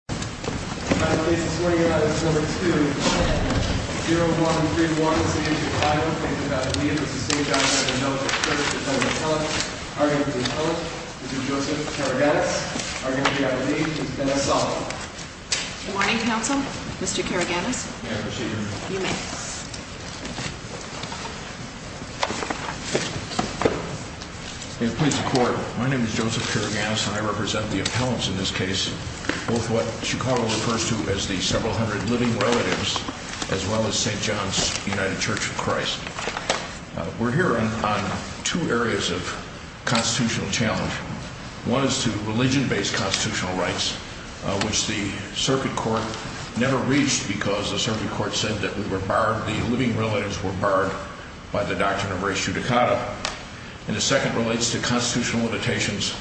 0131 St. John's United Church of Christ. I am your host, Joseph Karagannis. I'm going to be our lead, and that's all. Good morning, counsel. Mr. Karagannis. Good morning, procedure. Good evening. May it please the Court, my name is Joseph Karagannis, and I represent the appellants in this case, both what Chicago refers to as the several hundred living relatives, as well as St. John's United Church of Christ. We're here on two areas of constitutional challenge. One is to religion-based constitutional rights, which the circuit court never reached because the circuit court said that the living relatives were barred by the doctrine of res judicata. And the second relates to constitutional limitations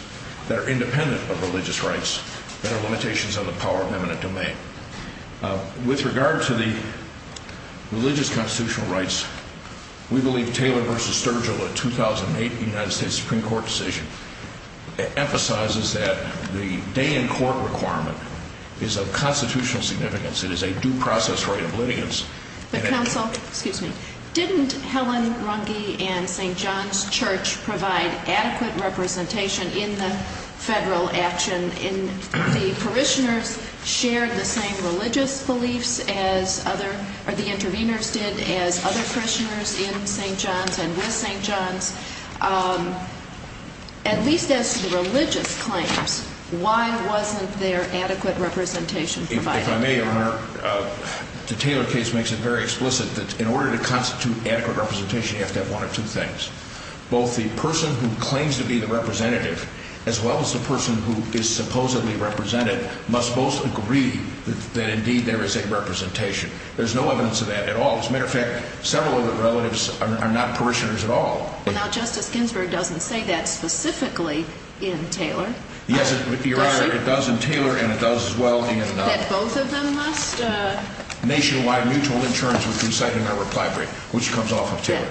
that are independent of religious rights, that are limitations of the power of eminent domain. With regard to the religious constitutional rights, we believe Taylor v. Sturgill, a 2008 United States Supreme Court decision, emphasizes that the day in court requirement is of constitutional significance. It is a due process for evidence. Didn't Helen Rundley and St. John's Church provide adequate representation in the federal action? The parishioners shared the same religious beliefs, or the interveners did, as other parishioners in St. John's and with St. John's. At least as to religious claims, why wasn't there adequate representation provided? The Taylor case makes it very explicit that in order to constitute adequate representation, you have to have one of two things. Both the person who claims to be the representative, as well as the person who is supposedly represented, must most agree that indeed there is a representation. There's no evidence of that at all. As a matter of fact, several of the relatives are not parishioners at all. Now Justice Ginsburg doesn't say that specifically in Taylor. Yes, it does in Taylor, and it does as well in nationwide mutual insurance, which comes off of Taylor.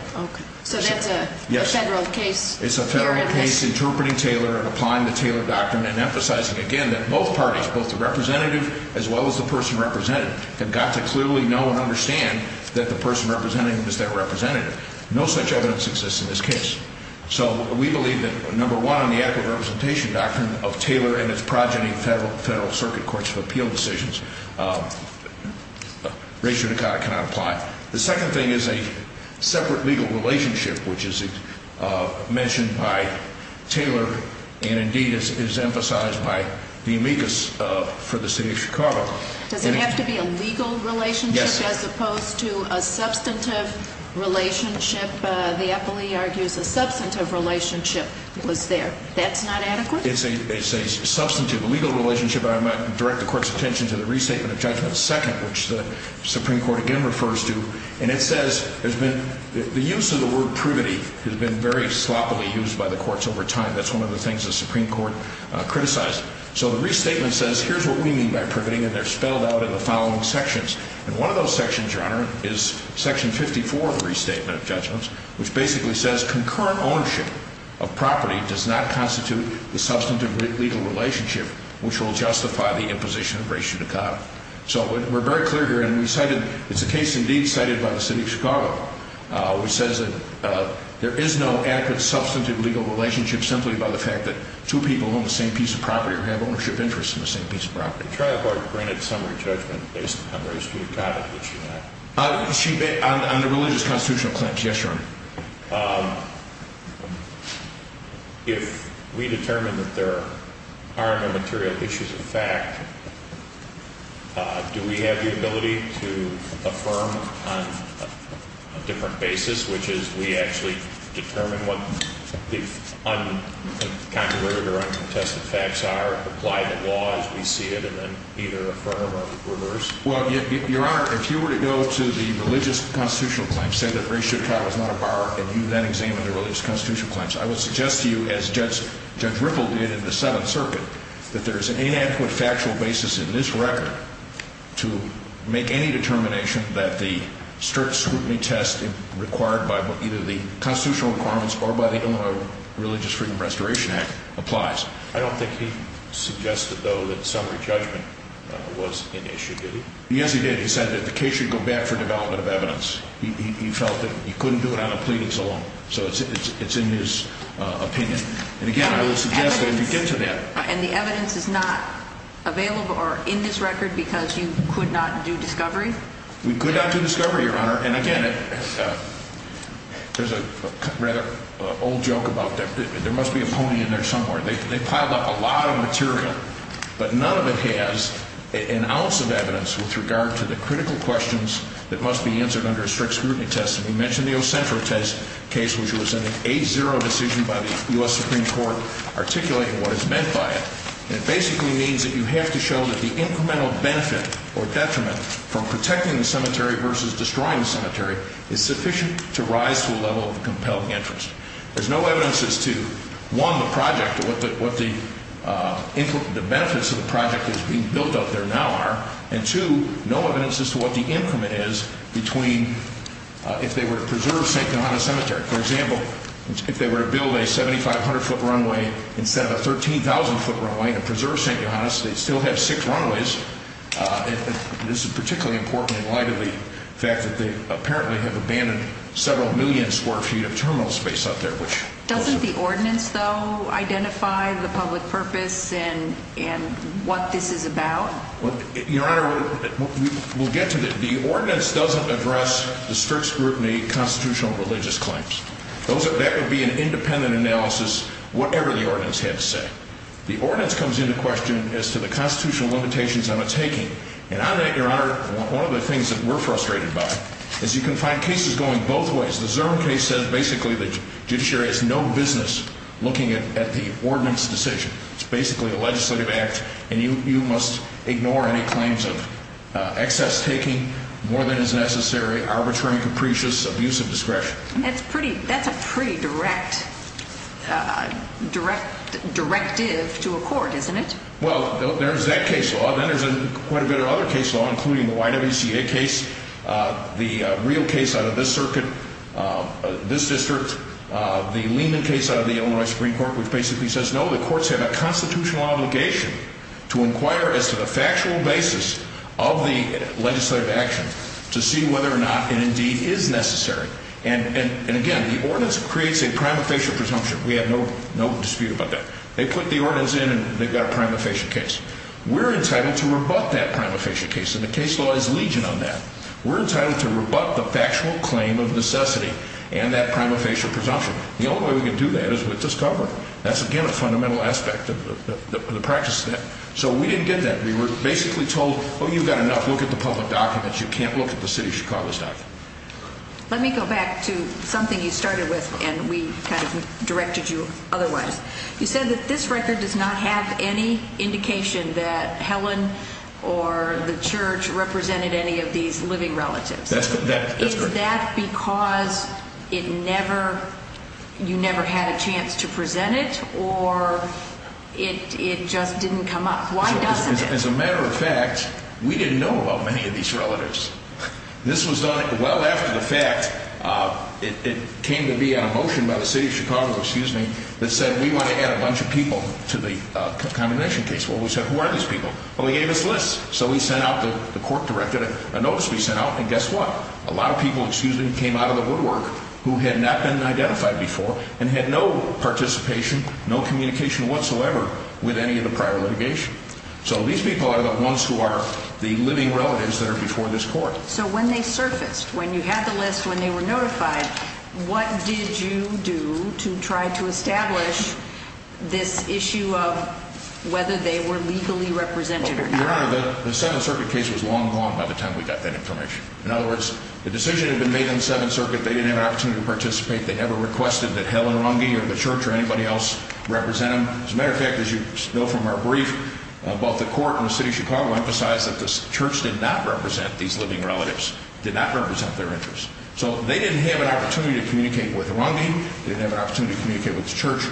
So that's a federal case? It's a federal case interpreting Taylor, applying the Taylor doctrine, and emphasizing again that both parties, both the representative as well as the person represented, have got to clearly know and understand that the person represented is that representative. No such evidence exists in this case. So we believe that, number one, the adequate representation doctrine of Taylor and its progeny, federal circuit courts for appeal decisions, racially cannot apply. The second thing is a separate legal relationship, which is mentioned by Taylor, and indeed is emphasized by the amicus for the city of Chicago. So there has to be a legal relationship as opposed to a substantive relationship? The affilee argues a substantive relationship was there. That's not adequate? It's a substantive legal relationship, and I'm going to direct the court's attention to the restatement of judgment second, which the Supreme Court again refers to. And it says the use of the word prudity has been very sloppily used by the courts over time. That's one of the things the Supreme Court criticized. So the restatement says, here's what we mean by prudity, and they're spelled out in the following sections. And one of those sections, Your Honor, is section 54 of the restatement of judgments, which basically says concurrent ownership of property does not constitute the substantive legal relationship, which will justify the imposition of racial denial. So we're very clear here, and it's a case, indeed, cited by the city of Chicago, which says that there is no adequate substantive legal relationship simply by the fact that two people own the same piece of property or have ownership interests in the same piece of property. The trial court granted summary judgment based on the ratio of properties, Your Honor. On the religious constitutional claims, yes, Your Honor. If we determine that there are no material issues of fact, do we have the ability to affirm on a different basis, which is we actually determine what the uncontroverted or uncontested facts are, apply the law as we see it, and then either affirm or reverse? Well, Your Honor, if you were to go to the religious constitutional claims, say that racial trial is not a bar, and you then examine the religious constitutional claims, I would suggest to you, as Judge Ripple did in the Seventh Circuit, that there's an inadequate factual basis in this record to make any determination that the strict scrutiny test required by either the constitutional requirements or by the Illinois Religious Freedom Restoration Act applies. I don't think he suggested, though, that summary judgment was an issue, did he? Yes, he did. He said that the case should go back for development of evidence. He felt that you couldn't do it on a plea that's all, so it's in his opinion. And again, I would suggest that you get to that. And the evidence is not available or in this record because you could not do discovery? We could not do discovery, Your Honor. And again, there's a rather old joke about there must be a pony in the tunnel. They pile up a lot of material, but none of it has an ounce of evidence with regard to the critical questions that must be answered under a strict scrutiny test. And you mentioned the O'Senfer case, which was an 8-0 decision by the U.S. Supreme Court articulating what is meant by it. And it basically means that you have to show that the incremental benefit or detriment from protecting the cemetery versus destroying the cemetery is sufficient to rise to a level of compelled entrance. There's no evidence as to, one, the project, what the benefits of the project that's being built out there now are, and two, no evidence as to what the increment is between if they were to preserve St. John's Cemetery. For example, if they were to build a 7,500-foot runway instead of a 13,000-foot runway to preserve St. John's, they'd still have six runways. This is particularly important in light of the fact that they apparently have abandoned several million square feet of terminal space up there. Doesn't the ordinance, though, identify the public purpose and what this is about? Your Honor, we'll get to this. The ordinance doesn't address the strict scrutiny constitutional religious claims. That could be an independent analysis, whatever the ordinance had to say. The ordinance comes into question as to the constitutional limitations on the taking. And I think, Your Honor, one of the things that we're frustrated by is you can find cases going both ways. The Zerm case says basically that judiciary has no business looking at the ordinance decision. It's basically a legislative act, and you must ignore any claims of excess taking, more than is necessary, arbitrary capricious abuse of discretion. That's a pretty direct directive to a court, isn't it? Well, there's that case law. Then there's quite a bit of other case law, including the YWCA case, the real case out of this circuit, this district, the Lehman case out of the Illinois Free Court, which basically says, no, the courts have a constitutional obligation to inquire as to the factual basis of the legislative action to see whether or not an indeed is necessary. And again, the ordinance creates a prima facie presumption. We have no dispute about that. They put the ordinance in, and they've got a prima facie case. We're incited to rebut that prima facie case, and the case law is legion on that. We're incited to rebut the factual claim of necessity and that prima facie presumption. The only way we can do that is with this cover. That's, again, a fundamental aspect of the practice. So we didn't get that. We were basically told, oh, you've got enough. Look at the public documents. You can't look at the city of Chicago's documents. Let me go back to something you started with, and we kind of directed you otherwise. You said that this record does not have any indication that Helen or the church represented any of these living relatives. Is that because you never had a chance to present it, or it just didn't come up? As a matter of fact, we didn't know about many of these relatives. This was done well after the fact. It came to be a motion by the city of Chicago that said we want to add a bunch of people to the condemnation case. Well, we said, who are these people? Well, we gave this list. So we sent out the court directed a notice. We sent out, and guess what? A lot of people came out of the woodwork who had not been identified before and had no participation, no communication whatsoever with any of the prior litigation. So these people are the ones who are the living relatives that are before this court. So when they surfaced, when you had the list, when they were notified, what did you do to try to establish this issue of whether they were legally represented or not? Well, you remember, the Seventh Circuit case was long gone by the time we got that information. In other words, the decision had been made in the Seventh Circuit. They didn't have an opportunity to participate. They never requested that Helen Runge or the church or anybody else represent them. As a matter of fact, as you know from our brief, both the court and the city of Chicago emphasized that the church did not represent these living relatives, did not represent their interests. So they didn't have an opportunity to communicate with Runge. They didn't have an opportunity to communicate with the church.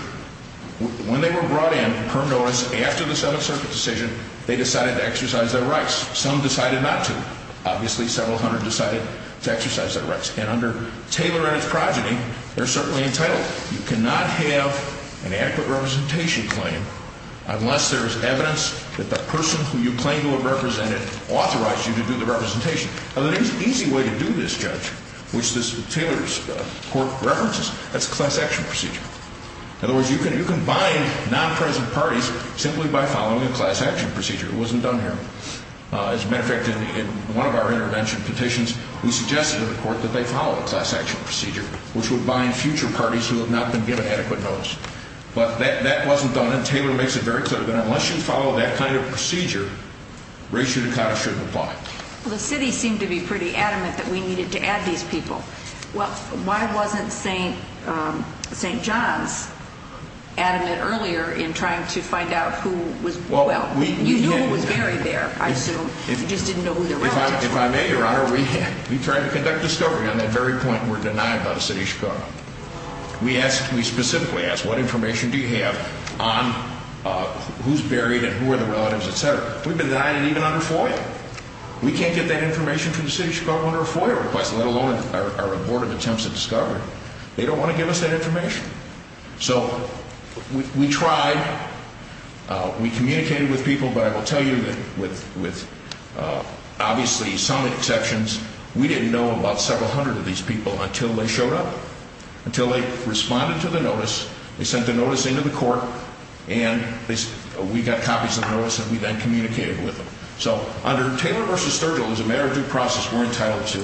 When they were brought in, her notice, after the Seventh Circuit decision, they decided to exercise their rights. Some decided not to. Obviously, several hundred decided to exercise their rights. And under tailorized projecting, they're certainly entitled. You cannot have an adequate representation claim unless there is evidence that the person who you claim to have represented authorized you to do the representation. Now, the easy way to do this, Judge, which this tailors court references, is a class action procedure. In other words, you can bind non-present parties simply by following a class action procedure. It wasn't done here. As a matter of fact, in one of our intervention petitions, we suggested to the court that they follow a class action procedure, which would bind future parties who have not been given adequate notice. But that wasn't done, and Taylor makes a very clear point. Unless you follow that kind of procedure, race and class shouldn't apply. The city seemed to be pretty adamant that we needed to add these people. Well, why wasn't St. John's adamant earlier in trying to find out who was, well, you know who's buried there, I assume. If I may, Your Honor, we tried to conduct a story. At that very point, we were denied by the city of Chicago. We specifically asked, what information do you have on who's buried and who are the relatives, etc.? We've been denied it even under FOIA. We can't get that information from the city of Chicago under a FOIA request, let alone a report of attempts at discovery. They don't want to give us that information. So we tried. We communicated with people, but I will tell you that with, obviously, some exceptions, we didn't know about several hundred of these people until they showed up, until they responded to the notice, they sent the notice into the court, and we got copies of the notice and we then communicated with them. So under Taylor v. Thurgold, as a matter of due process, we're entitled to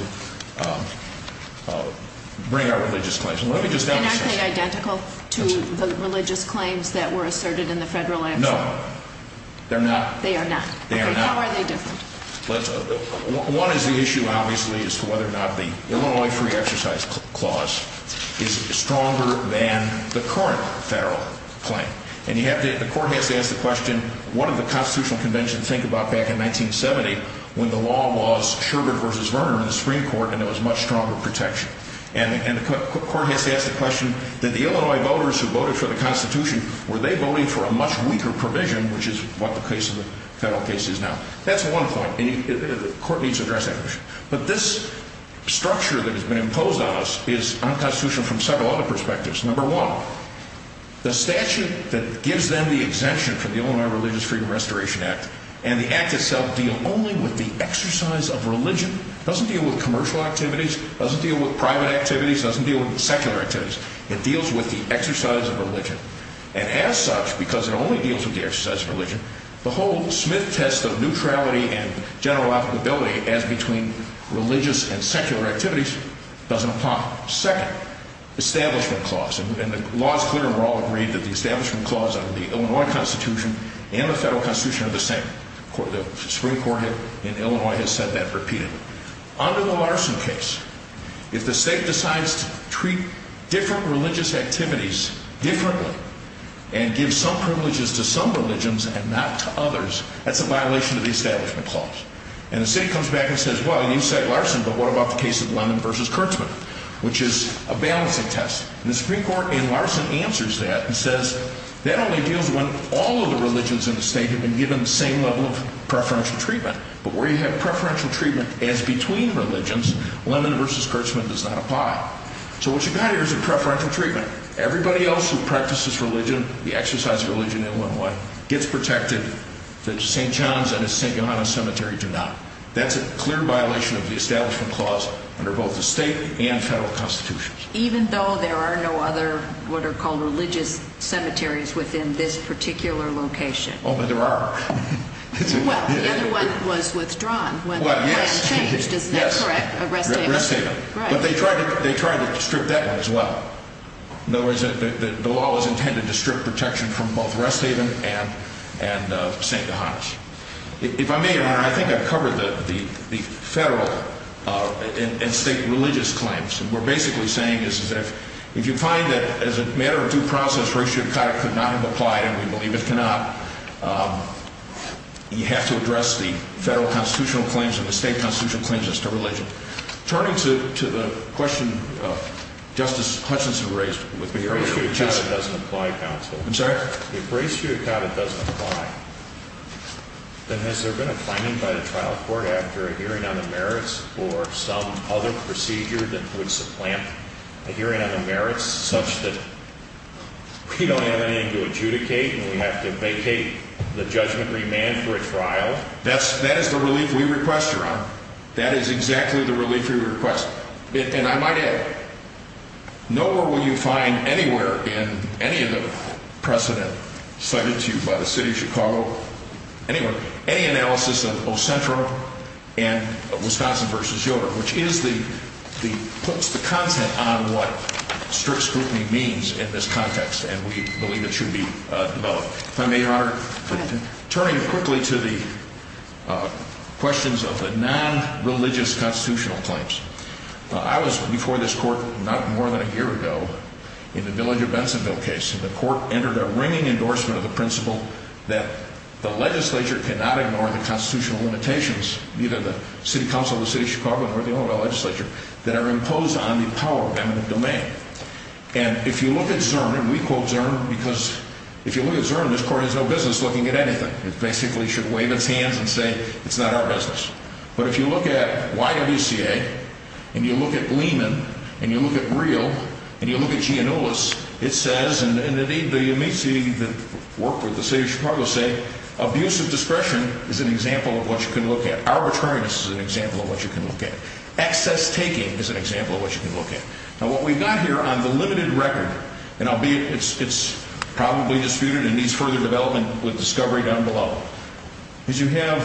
bring our religious claims. They're not, say, identical to the religious claims that were asserted in the Federal Act? No. They're not? They are not. They are not? How are they different? One is the issue, obviously, is whether or not the Illinois Free Exercise Clause is stronger than the current federal claim. And you have to ask the question, what did the Constitutional Convention think about back in 1970 when the law was Schubert v. Vernon in the Supreme Court and there was much stronger protection? And the court has to ask the question, did the Illinois voters who voted for the Constitution, were they voting for a much weaker provision, which is what the case of the federal case is now? That's one point. The court needs to address that question. But this structure that has been imposed on us is unconstitutional from several other perspectives. Number one, the statute that gives them the exemption from the Illinois Religious Freedom Restoration Act and the Act itself deal only with the exercise of religion, doesn't deal with commercial activities, doesn't deal with private activities, doesn't deal with secular activities. It deals with the exercise of religion. And as such, because it only deals with the exercise of religion, the whole Smith test of neutrality and general applicability as between religious and secular activities doesn't apply. Second, establishment clause. And the law is clear and we're all agreed that the establishment clause under the Illinois Constitution and the federal Constitution are the same. The Supreme Court in Illinois has said that repeatedly. Under the Larson case, if the state decides to treat different religious activities differently and give some privileges to some religions and not to others, that's a violation of the establishment clause. And the city comes back and says, well, you said Larson, but what about the case of Lennon v. Kurtzman, which is a balancing test. And the Supreme Court in Larson answers that and says that only deals when all of the religions in the state have been given the same level of preferential treatment. But where you have preferential treatment as between religions, Lennon v. Kurtzman does not apply. So what you've got here is a preferential treatment. Everybody else who practices religion, the exercise of religion in Illinois, gets protected. The St. John's and the St. John's Cemetery do not. That's a clear violation of the establishment clause under both the state and federal constitutions. Even though there are no other what are called religious cemeteries within this particular location? Oh, but there are. Well, the other one that was withdrawn was Rest Haven. Yes, Rest Haven. But they tried to strip that out as well. In other words, the law was intended to strip protection from both Rest Haven and St. John's. If I may, Your Honor, I think I've covered the federal and state religious claims. What we're basically saying is that if you find that as a matter of due process, and we believe it cannot, you have to address the federal constitutional claims and the state constitutional claims as to religion. Turning to the question Justice Hutchinson raised with me earlier. If res judicata doesn't apply, counsel. I'm sorry? If res judicata doesn't apply, then has there been a finding by the trial court after a hearing on the merits for some other procedure that would supplant a hearing on the merits such that we don't have anything to adjudicate and we have to vacate the judgmentary man for a trial? That is the relief we request, Your Honor. That is exactly the relief we request. And I might add, nowhere will you find anywhere in any of the precedent submitted to you by the city of Chicago, any analysis of Ocentro and Wisconsin v. Yoder, which puts the content on what strict scrutiny means in this context, and we believe it should be developed. If I may, Your Honor. Turning quickly to the questions of the non-religious constitutional claims. I was before this court not more than a year ago in the Millinger-Bensonville case, and the court entered a ringing endorsement of the principle that the legislature cannot ignore the constitutional limitations, either the city council of the city of Chicago or the Illinois legislature, that are imposed on the power and the domain. And if you look at Zurn, and we quote Zurn, because if you look at Zurn, this court has no business looking at anything. It basically should wave its hand and say, it's not our business. But if you look at YVCA and you look at Lehman and you look at Real and you look at Giannullis, it says, and you may see the work of the city of Chicago say, abusive discretion is an example of what you can look at. Arbitrariness is an example of what you can look at. Access taking is an example of what you can look at. Now, what we've done here on the limited record, and it's probably disputed and needs further development with discovery down below, is you have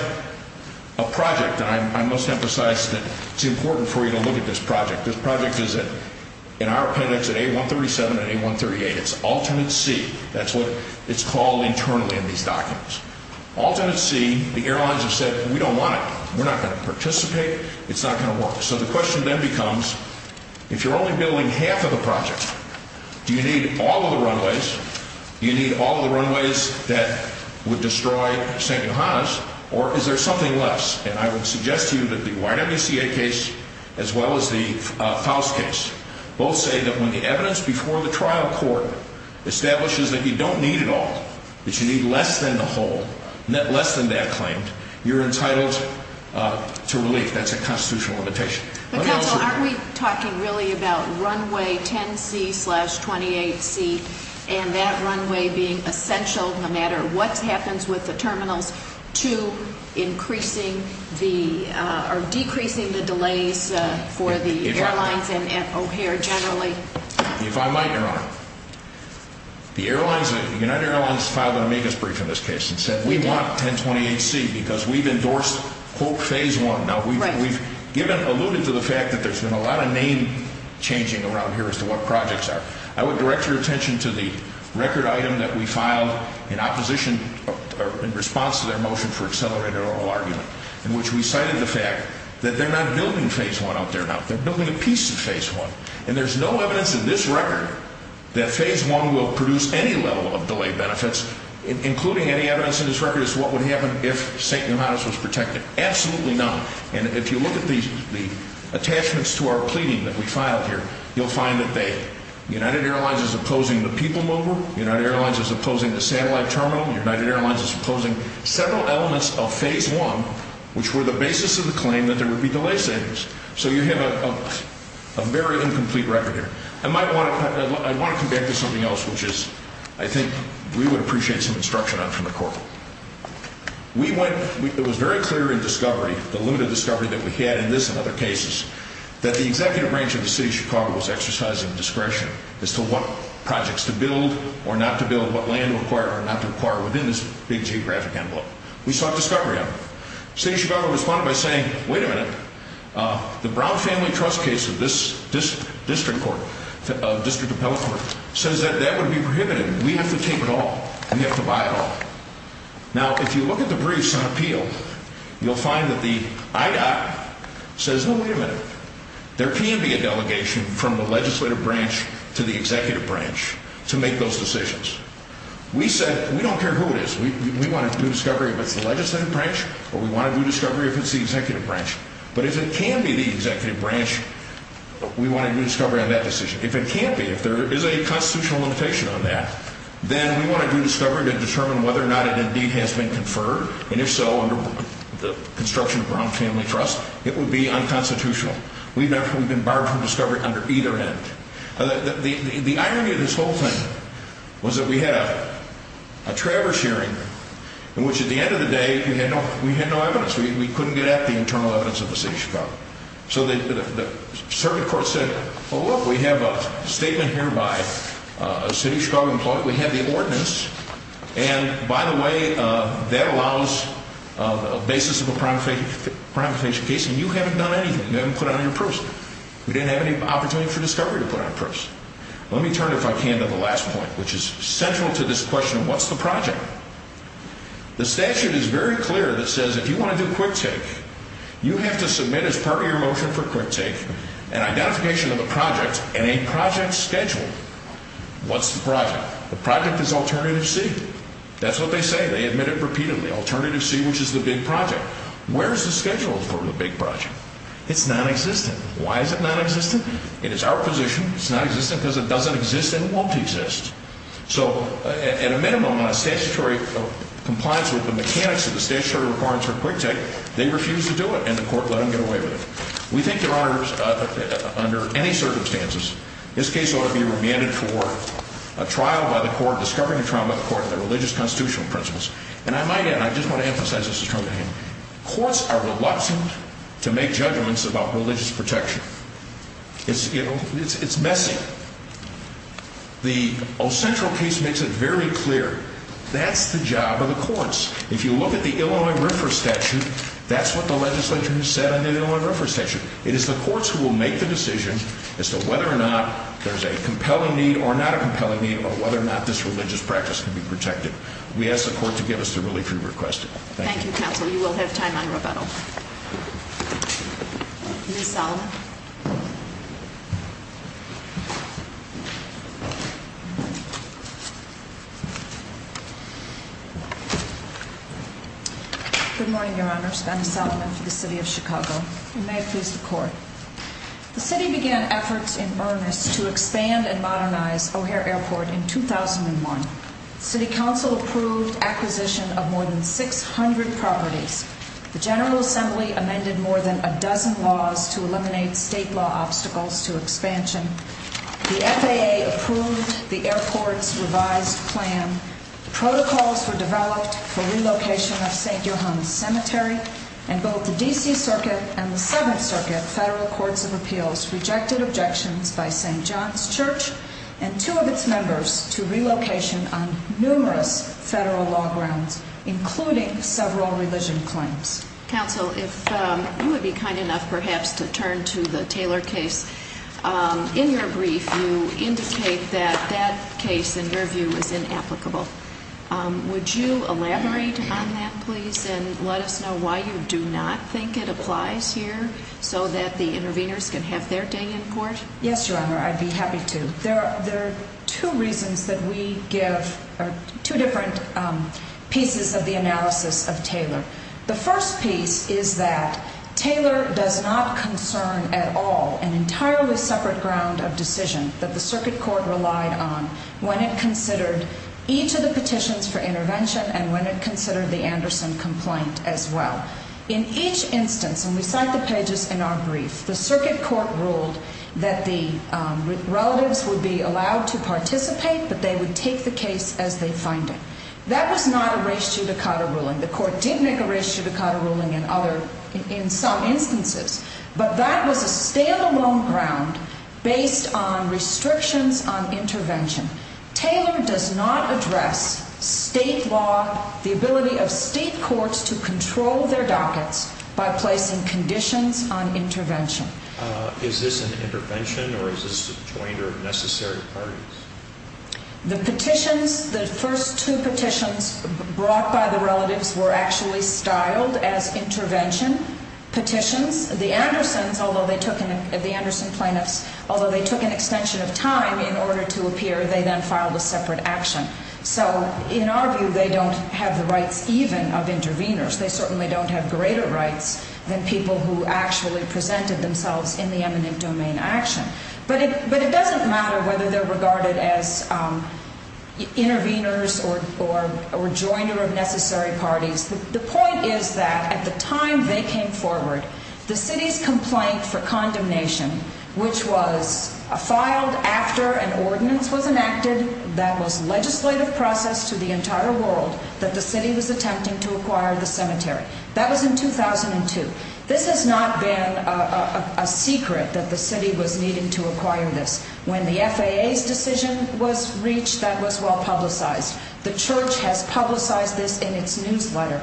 a project, and I must emphasize that it's important for you to look at this project. This project is in our credits at A137 and A138. It's ultimate C. That's what it's called internally in these documents. Ultimate C, the airlines have said, we don't want it. We're not going to participate. It's not going to work. So the question then becomes, if you're only building half of the project, do you need all of the runways? Do you need all of the runways that would destroy San Johannes? Or is there something less? And I would suggest to you that the YMCA case, as well as the Powell's case, both say that when the evidence before the trial court establishes that you don't need it all, that you need less than the whole, less than that claim, you're entitled to relief. That's a constitutional limitation. But, counsel, aren't we talking really about runway 10C-28C and that runway being essential no matter what happens with the terminal 2, decreasing the delays for the airlines and O'Hare generally? If I might, Your Honor, the United Airlines filed an amicus brief in this case and said we want 10-28C because we've endorsed quote phase one. Now, we've alluded to the fact that there's been a lot of name changing around here as to what projects are. I would direct your attention to the record item that we filed in opposition, in response to their motion for accelerated oral argument, in which we cited the fact that they're not building phase one out there now. They're building a piece of phase one. And there's no evidence in this record that phase one will produce any level of delay benefits, including any evidence in this record as to what would happen if San Johannes was protected. Absolutely not. And if you look at the attachments to our plea that we filed here, you'll find that the United Airlines is opposing the people mover, the United Airlines is opposing the satellite terminal, the United Airlines is opposing several elements of phase one, which were the basis of the claim that there would be delay standards. So you have a very incomplete record here. I might want to come back to something else, which is I think we would appreciate some instruction on from the court. It was very clear in discovery, the limited discovery that we had in this and other cases, that the executive branch of the city of Chicago was exercising discretion as to what projects to build or not to build, what land to acquire or not to acquire within this big geographic envelope. We saw discovery happen. The city of Chicago responded by saying, wait a minute, the Brown Family Trust case of this district of Pelham says that that would be prohibited. We have to take it all. We have to buy it all. Now, if you look at the previous appeal, you'll find that the IDOC says, no, wait a minute, there can be a delegation from the legislative branch to the executive branch to make those decisions. We said we don't care who it is. We want to do discovery with the legislative branch, or we want to do discovery if it's the executive branch. But if it can be the executive branch, we want to do discovery on that decision. If it can't be, if there is a constitutional limitation on that, then we want to do discovery to determine whether or not an entity has been conferred, and if so, under the construction of the Brown Family Trust, it would be unconstitutional. We've actually been barred from discovery under either end. The irony of this whole thing was that we had a traverse hearing, in which at the end of the day, we had no evidence. We couldn't get at the internal evidence of the city of Chicago. So the circuit court said, well, look, we have a statement here by a city of Chicago employee. We have the ordinance. And, by the way, that allows the basis of a crime prevention case, and you haven't done anything. You haven't put it on your proof. You didn't have any opportunity for discovery to put on your proofs. Let me turn, if I can, to the last point, which is central to this question of what's the project. The statute is very clear that says if you want to do a court take, you have to submit as part of your motion for a court take an identification of a project and a project schedule. What's the project? The project is alternative C. That's what they say. They admit it repeatedly. Alternative C, which is the big project. Where is the schedule for the big project? It's nonexistent. Why is it nonexistent? It is our position. It's nonexistent because it doesn't exist and it won't exist. So, at a minimum, a statutory compliance with the mechanics of the statutory requirements for a court take, they refuse to do it, and the court let them get away with it. We think there are, under any circumstances, this case ought to be remanded for a trial by the court, discovering a trial by the court of the religious constitutional principles. And I might add, I just want to emphasize this term again, courts are reluctant to make judgments about religious protection. It's messy. The O'Sentral case makes it very clear that's the job of the courts. If you look at the Illinois River Statute, that's what the legislation said in the Illinois River Statute. It is the courts who will make the decision as to whether or not there's a compelling need or not a compelling need or whether or not this religious practice can be protected. We ask the court to give us the really true request. Thank you. Thank you, counsel. You will have time to rebuttal. Ms. Sullivan. Good morning, Your Honor. I'm Ms. Sullivan from the city of Chicago. And may I please support? The city began efforts in earnest to expand and modernize O'Hare Airport in 2001. City Council approved acquisition of more than 600 properties. The General Assembly amended more than a dozen laws to eliminate state law obstacles to expansion. The FAA approved the airport's revised plan. Protocols were developed for relocation of St. John's Cemetery and both the D.C. Circuit and the 7th Circuit Federal Courts of Appeals rejected objections by St. John's Church and two of its members to relocation on numerous federal law grounds, including several revision claims. Counsel, if you would be kind enough perhaps to turn to the Taylor case. In your brief, you indicate that that case, in your view, is inapplicable. Would you elaborate on that, please, and let us know why you do not think it applies here so that the interveners can have their day in court? Yes, Your Honor, I'd be happy to. There are two reasons that we give two different pieces of the analysis of Taylor. The first piece is that Taylor does not concern at all an entirely separate ground of decision that the Circuit Court relied on when it considered each of the petitions for intervention and when it considered the Anderson complaint as well. In each instance, when we cite the pages in our brief, the Circuit Court ruled that the relatives would be allowed to participate, that they would take the case as they find it. That was not a res judicata ruling. The Court did make a res judicata ruling in some instances, but that was a stand-alone ground based on restrictions on intervention. Taylor does not address state law, the ability of state courts to control their documents by placing conditions on intervention. Is this an intervention or is this a point of necessary parties? The petitions, the first two petitions brought by the relatives were actually filed as intervention petitions. The Andersons, although they took an extension of time in order to appear, they then filed a separate action. So in our view, they don't have the rights even of intervenors. They certainly don't have greater rights than people who actually presented themselves in the eminent domain action. But it doesn't matter whether they're regarded as intervenors or joiner of necessary parties. The point is that at the time they came forward, the city's complaint for condemnation, which was filed after an ordinance was enacted that was legislative process to the entire world, that the city was attempting to acquire the cemetery. That was in 2002. This has not been a secret that the city was needing to acquire this. When the FAA's decision was reached, that was well publicized. The church has publicized this in its newsletter.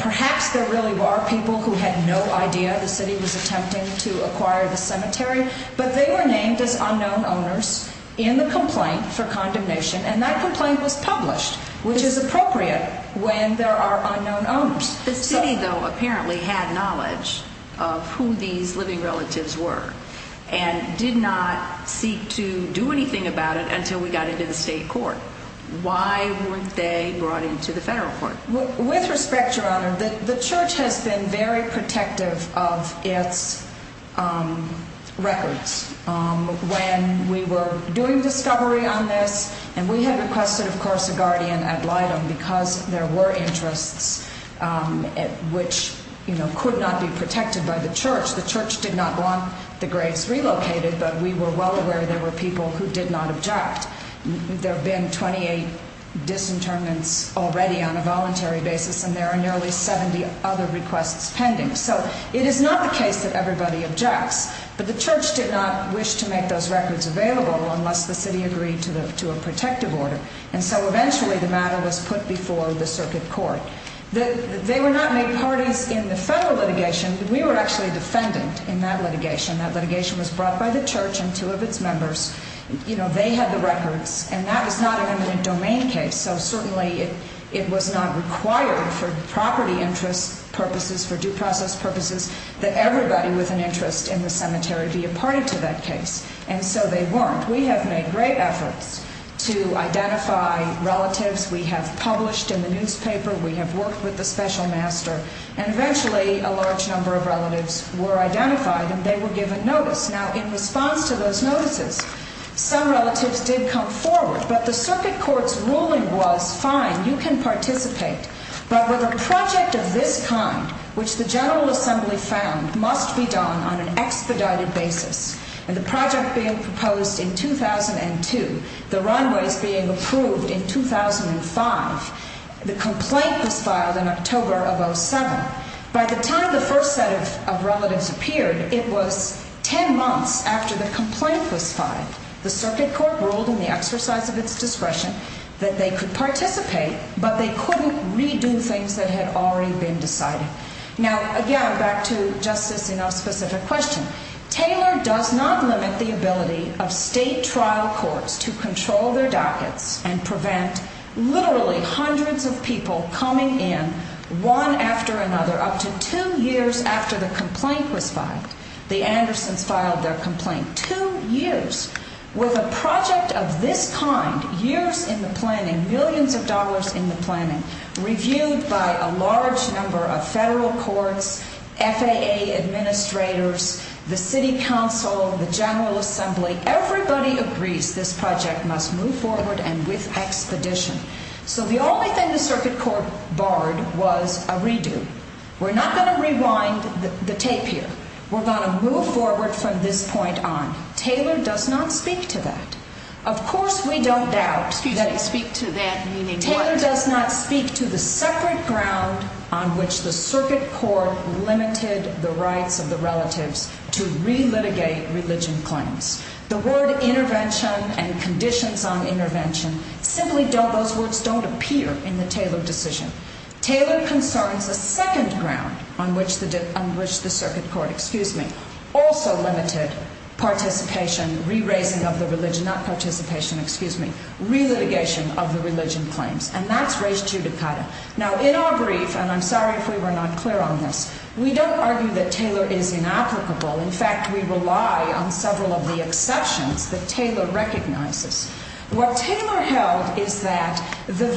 Perhaps there really were people who had no idea the city was attempting to acquire the cemetery, but they were named as unknown owners in the complaint for condemnation, and that complaint was published, which is appropriate when there are unknown owners. The city, though, apparently had knowledge of who these living relatives were and did not seek to do anything about it until we got it to the state court. Why was they brought into the federal court? With respect, Your Honor, the church has been very protective of its records. When we were doing the discovery on this, and we had requested, of course, to guard in at Lydom because there were interests which could not be protected by the church. The church did not want the graves relocated, but we were well aware there were people who did not object. There have been 28 disinterments already on a voluntary basis, and there are nearly 70 other requests pending. So it is not the case that everybody objects, but the church did not wish to make those records available unless the city agreed to a protective order, and so eventually the matter was put before the circuit court. They were not made parties in the federal litigation because we were actually defendants in that litigation. That litigation was brought by the church and two of its members. They had the records, and that was not an imminent domain case, so certainly it was not required for the property interest purposes, for due process purposes, that everybody with an interest in the cemetery be a party to that case, and so they weren't. We have made great efforts to identify relatives. We have published in the newspaper. We have worked with the special master, and eventually a large number of relatives were identified, and they were given notice. Now, in response to those notices, some relatives did come forward, but the circuit court's ruling was, fine, you can participate, but with a project of this kind, which the General Assembly found must be done on an expedited basis, and the project being proposed in 2002, the runways being approved in 2005, the complaint was filed in October of 2007. Now, by the time the first set of relatives appeared, it was 10 months after the complaint was filed. The circuit court ruled in the exercise of its discretion that they could participate, but they couldn't redo things that had already been decided. Now, again, back to Justice Inouye's specific question, Taylor does not limit the ability of state trial courts to control their dockets and prevent literally hundreds of people coming in one after another, up to two years after the complaint was filed. The Anderson filed their complaint two years with a project of this kind, years in the planning, millions of dollars in the planning, reviewed by a large number of federal courts, FAA administrators, the city council, the General Assembly. Everybody agrees this project must move forward and with expeditions. So the only thing the circuit court barred was a redo. We're not going to rewind the tape here. We're going to move forward from this point on. Taylor does not speak to that. Of course we don't doubt that Taylor does not speak to the separate ground on which the circuit court limited the rights of the relative to re-litigate religion claims. The word intervention and conditions on intervention simply don't appear in the Taylor decision. Taylor concerns the second ground on which the circuit court also limited participation, re-raising of the religion, not participation, excuse me, re-litigation of the religion claims, and that's race to the title. Now, in our brief, and I'm sorry if we were not clear on this, we don't argue that Taylor is inapplicable. In fact, we rely on several of the exceptions that Taylor recognizes. What Taylor held is that the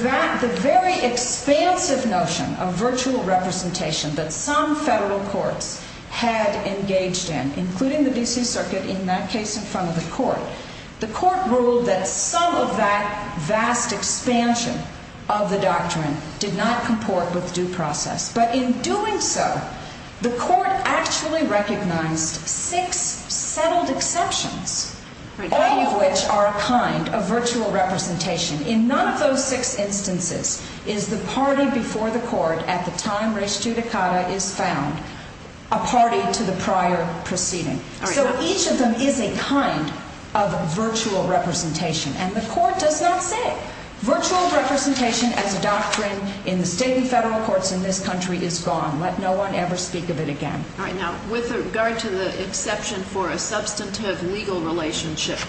very expansive notion of virtual representation that some federal courts had engaged in, including the D.C. Circuit, in that case in front of the courts, the court ruled that some of that vast expansion of the doctrine did not comport with due process. But in doing so, the court actually recognized six settled exceptions, all of which are a kind of virtual representation. In none of those six instances is the party before the court at the time race to the title is found a party to the prior proceeding. So each of them is a kind of virtual representation, and the court does not say virtual representation and doctrine in state and federal courts in this country is gone. Let no one ever speak of it again. All right. Now, with regard to the exception for a substantive legal relationship,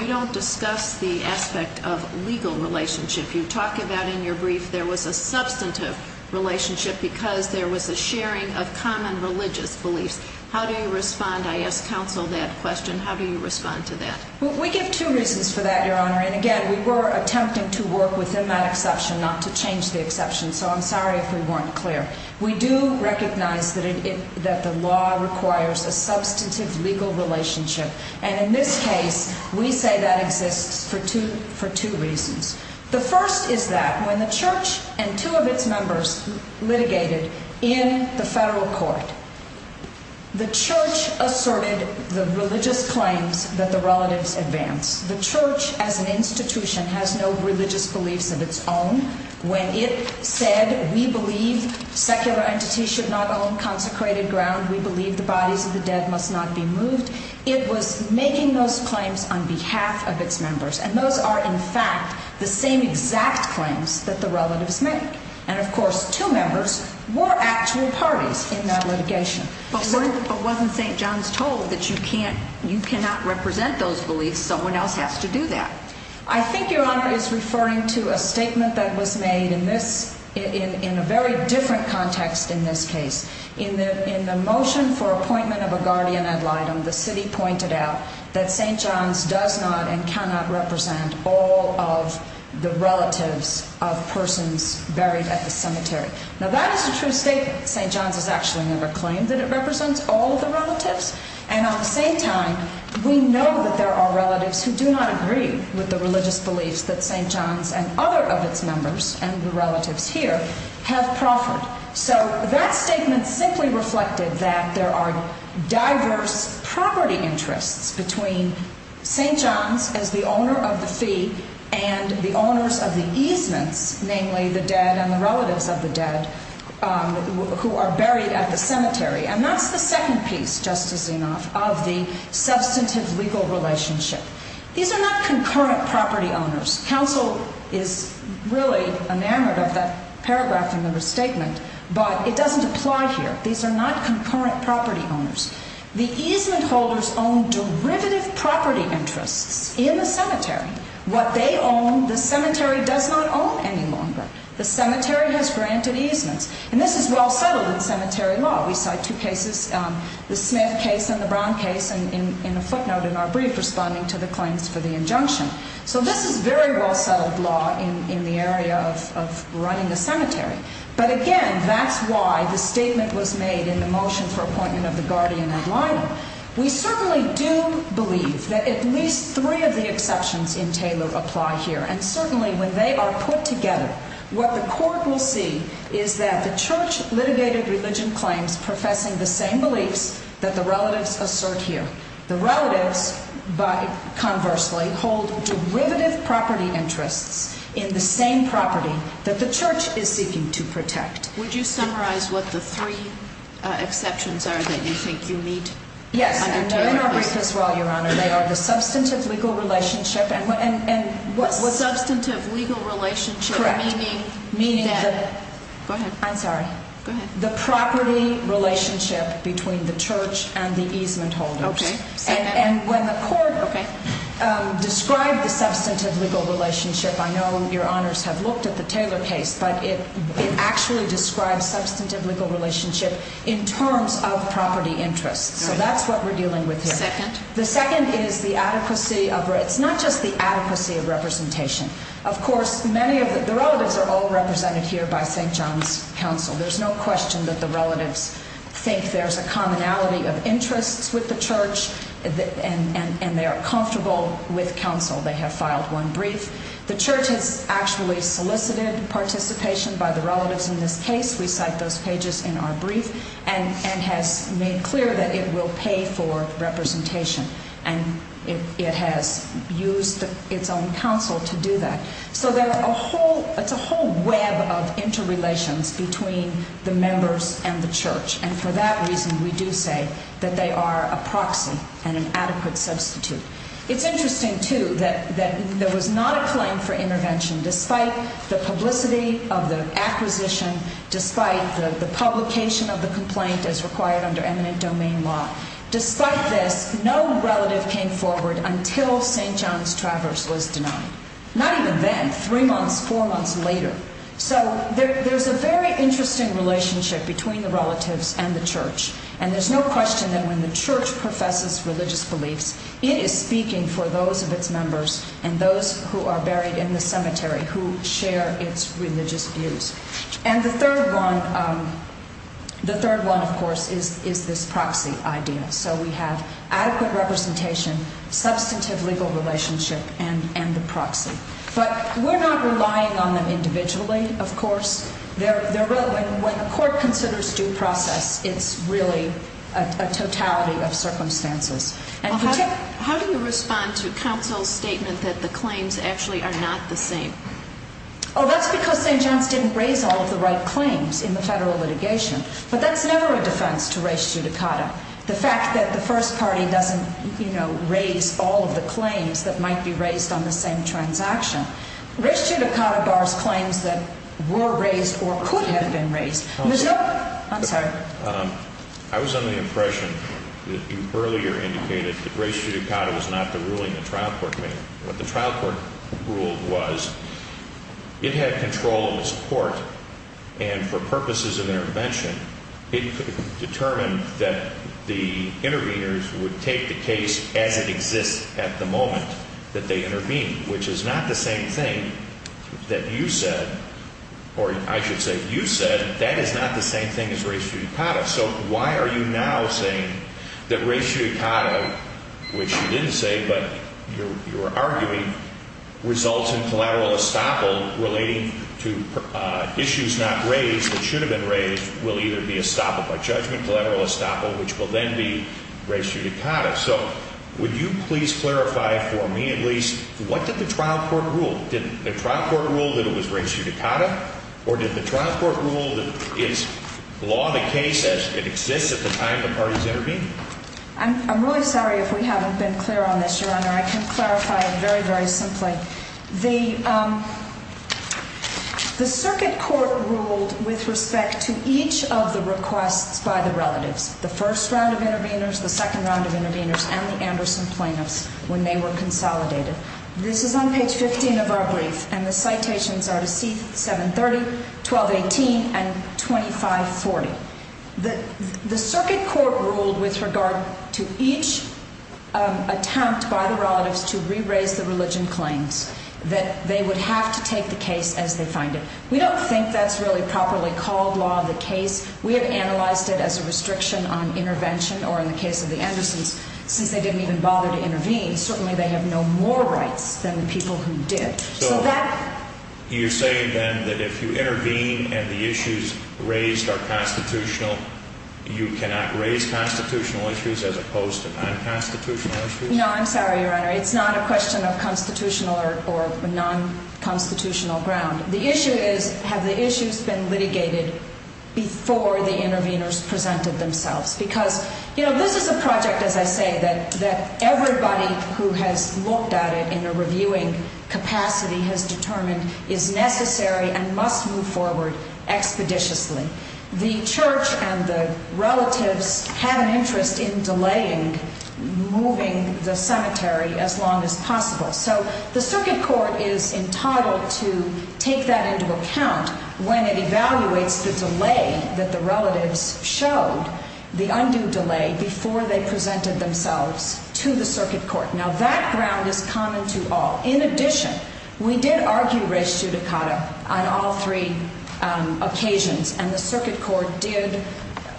you don't discuss the aspect of legal relationship. You talk about in your brief there was a substantive relationship because there was a sharing of common religious beliefs. How do you respond? I asked counsel that question. How do you respond to that? We give two reasons for that, Your Honor, and, again, we were attempting to work within that exception, not to change the exception, so I'm sorry if we weren't clear. We do recognize that the law requires a substantive legal relationship, and in this case we say that exists for two reasons. The first is that when the church and two of its members litigated in the federal court, the church asserted the religious claims that the relatives advanced. The church as an institution has no religious beliefs of its own. When it said we believe secular entities should not own consecrated ground, we believe the bodies of the dead must not be moved, it was making those claims on behalf of its members, and those are, in fact, the same exact claims that the relatives made. And, of course, two members were actually parties in that litigation. But wasn't St. John's told that you cannot represent those beliefs, someone else has to do that? I think Your Honor is referring to a statement that was made in a very different context in this case. In the motion for appointment of a guardian ad litem, the city pointed out that St. John's does not and cannot represent all of the relatives of persons buried at the cemetery. Now that is a true statement. St. John's has actually never claimed that it represents all of the relatives, and on St. John's we know that there are relatives who do not agree with the religious beliefs that St. John's and other of its members, and the relatives here, have proffered. So that statement simply reflected that there are diverse property interests between St. John's as the owner of the feet and the owners of the easements, namely the dead and the relatives of the dead who are buried at the cemetery. And that's the second piece, just as enough, of the substantive legal relationship. These are not concurrent property owners. Counsel is really enamored of that paragraph in the statement, but it doesn't apply here. These are not concurrent property owners. The easement holders own derivative property interests in the cemetery. What they own the cemetery does not own any longer. The cemetery has granted easements. And this is well-fettered in cemetery law. We cite two cases, the Smith case and the Brown case, in a footnote in our brief responding to the claims for the injunction. So this is very well-held law in the area of running a cemetery. But again, that's why the statement was made in the motion for appointment of the guardian as liable. We certainly do believe that at least three of the exceptions in Taylor apply here. And certainly when they are put together, what the court will see is that the church litigated religion claims professing the same beliefs that the relatives assert here. The relatives, but conversely, hold derivative property interests in the same property that the church is seeking to protect. Would you summarize what the three exceptions are that you think you need? Yes. They're not brief as well, Your Honor. They are the substantive legal relationship. And what substantive legal relationship? Correct. Meaning the property relationship between the church and the easement holders. Okay. And when the court describes the substantive legal relationship, I know Your Honors have looked at the Taylor case, but it actually describes substantive legal relationship in terms of property interest. So that's what we're dealing with here. The second is the adequacy of race. Not just the adequacy of representation. Of course, the relatives are all represented here by St. John's Council. There's no question that the relatives think there's a commonality of interest with the church, and they're comfortable with counsel. They have filed one brief. The church has actually solicited participation by the relatives in this case. We cite those pages in our brief and have made clear that it will pay for representation. And it has used its own counsel to do that. So there's a whole web of interrelations between the members and the church, and for that reason we do say that they are a proxy and an adequate substitute. It's interesting, too, that there was not a claim for intervention despite the publicity of the acquisition, despite the publication of the complaint as required under eminent domain law. Despite this, no relative came forward until St. John's Traverse was denied. Not even then, three months, four months later. So there's a very interesting relationship between the relatives and the church, and there's no question that when the church professes religious beliefs, it is speaking for those of its members and those who are buried in the cemetery who share its religious views. And the third one, of course, is this proxy idea. So we have adequate representation, substantive legal relationship, and the proxy. But we're not relying on them individually, of course. When a court considers due process, it's really a totality of circumstances. How do you respond to counsel's statement that the claims actually are not the same? Oh, that's because they just didn't raise all of the right claims in the federal litigation. But that's never a defense to res judicata. The fact that the first party doesn't, you know, raise all of the claims that might be raised on the same transaction. Res judicata bars claims that were raised or could have been raised. I'm sorry. I was under the impression that you earlier indicated that res judicata was not the ruling the trial court made. The trial court rule was it had control of the court. And for purposes of intervention, it determined that the interveners would take the case as it existed at the moment that they intervened, which is not the same thing that you said, or I should say you said. That is not the same thing as res judicata. So why are you now saying that res judicata, which you didn't say, but you're arguing, results in collateral estoppel relating to issues not raised that should have been raised, will either be estoppel by judgment, collateral estoppel, which will then be res judicata. So would you please clarify for me, at least, what did the trial court rule? Did the trial court rule that it was res judicata? Or did the trial court rule that it's law the case as it exists at the time the parties intervened? I'm really sorry if we haven't been clear on this, Your Honor. I can clarify it very, very simply. The circuit court ruled with respect to each of the requests by the relatives, the first round of interveners, the second round of interveners, and the Anderson plaintiffs, when they were consolidated. This is on page 15 of our brief, and the citations are at page 730, 1218, and 2540. The circuit court ruled with regard to each attempt by the relatives to re-raise the religion claim that they would have to take the case as they found it. We don't think that's really properly called law the case. We have analyzed it as a restriction on intervention, or in the case of the Andersons, since they didn't even bother to intervene, certainly they have no more rights than the people who did. So you're saying then that if you intervene and the issues raised are constitutional, you cannot raise constitutional issues as opposed to non-constitutional issues? No, I'm sorry, Your Honor. It's not a question of constitutional or non-constitutional grounds. The issue is, have the issues been litigated before the interveners presented themselves? Because this is a project, as I say, that everybody who has looked at it in a reviewing capacity has determined is necessary and must move forward expeditiously. The church and the relatives had an interest in delaying moving the cemetery as long as possible. So the circuit court is entitled to take that into account when it evaluates the delay that the relatives showed the undue delay before they presented themselves to the circuit court. Now, that ground is common to all. In addition, we did argue race judicata on all three occasions, and the circuit court did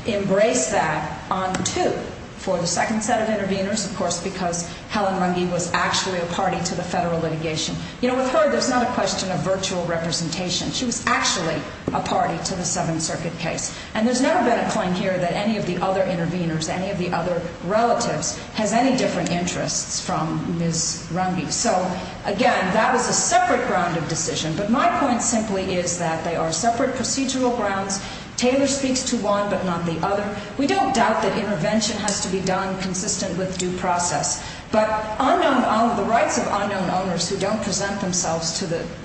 embrace that on two, for the second set of interveners, of course, because Helen Runge was actually a party to the federal litigation. You know, with her, it's not a question of virtual representation. She was actually a party to the Seventh Circuit case, and there's never been a claim here that any of the other interveners, any of the other relatives, have any different interests from Ms. Runge. So, again, that was a separate ground of decision, but my point simply is that they are separate procedural grounds. Taylor speaks to one but not the other. We don't doubt that intervention has to be done consistent with due process, but all of the rights of unknown owners who don't present themselves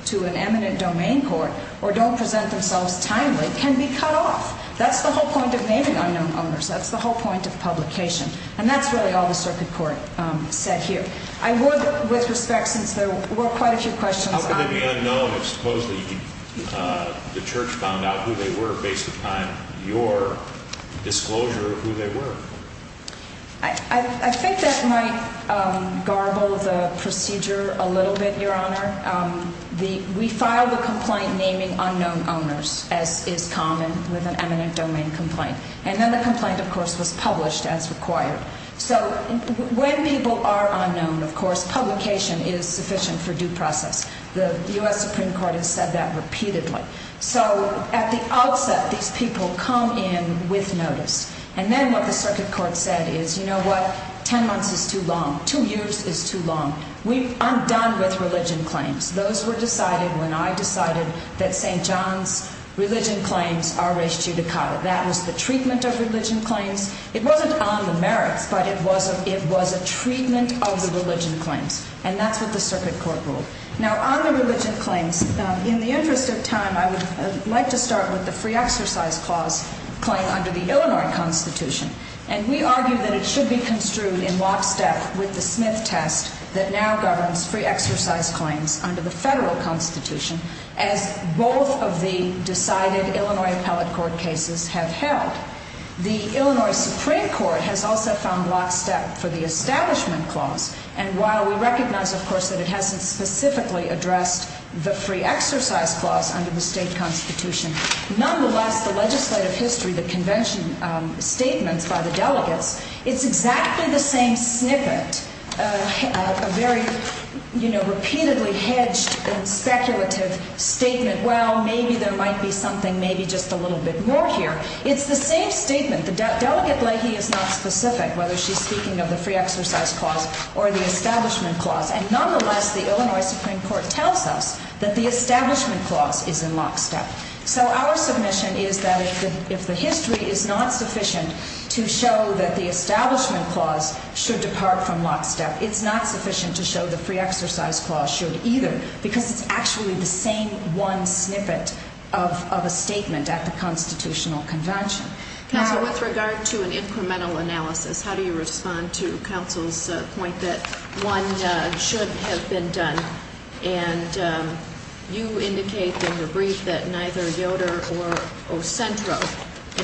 to an eminent domain court or don't present themselves timely can be cut off. That's the whole point of naming unknown owners. That's the whole point of publication. And that's really all the circuit court said here. I would, with respect, since there were quite a few questions. I didn't really know, but supposedly the Church found out who they were based upon your disclosure of who they were. I think that might garble the procedure a little bit, Your Honor. We filed a complaint naming unknown owners, as is common with an eminent domain complaint. And then the complaint, of course, was published as required. So when people are unknown, of course, publication is sufficient for due process. The U.S. Supreme Court has said that repeatedly. So at the outset, these people come in with notice. And then what the circuit court said is, you know what? Ten months is too long. Two years is too long. I'm done with religion claims. Those were decided when I decided that St. John's religion claims are res judicata. That was the treatment of religion claims. It wasn't on the merits, but it was a treatment of the religion claims. And that's what the circuit court ruled. Now, on the religion claims, in the interest of time, I would like to start with the Free Exercise Clause claim under the Illinois Constitution. And we argue that it should be construed in lockstep with the Smith test that now governs free exercise claims under the federal constitution, as both of the decided Illinois appellate court cases have held. The Illinois Supreme Court has also found lockstep for the Establishment Clause. And while we recognize, of course, that it hasn't specifically addressed the free exercise clause under the state constitution, nonetheless, the legislative history, the convention statements by the delegates, it's exactly the same snippet, a very repeatedly hedged and speculative statement, well, maybe there might be something, maybe just a little bit more here. It's the same statement. The delegate lady is not specific, whether she's speaking of the Free Exercise Clause or the Establishment Clause. And nonetheless, the Illinois Supreme Court tells us that the Establishment Clause is in lockstep. So our submission is that if the history is not sufficient to show that the Establishment Clause should depart from lockstep, it's not sufficient to show the Free Exercise Clause should either, because it's actually the same one snippet of a statement at the constitutional convention. Now, with regard to an incremental analysis, how do you respond to Counsel's point that one should have been done? And you indicate in the brief that neither Yoder or Centro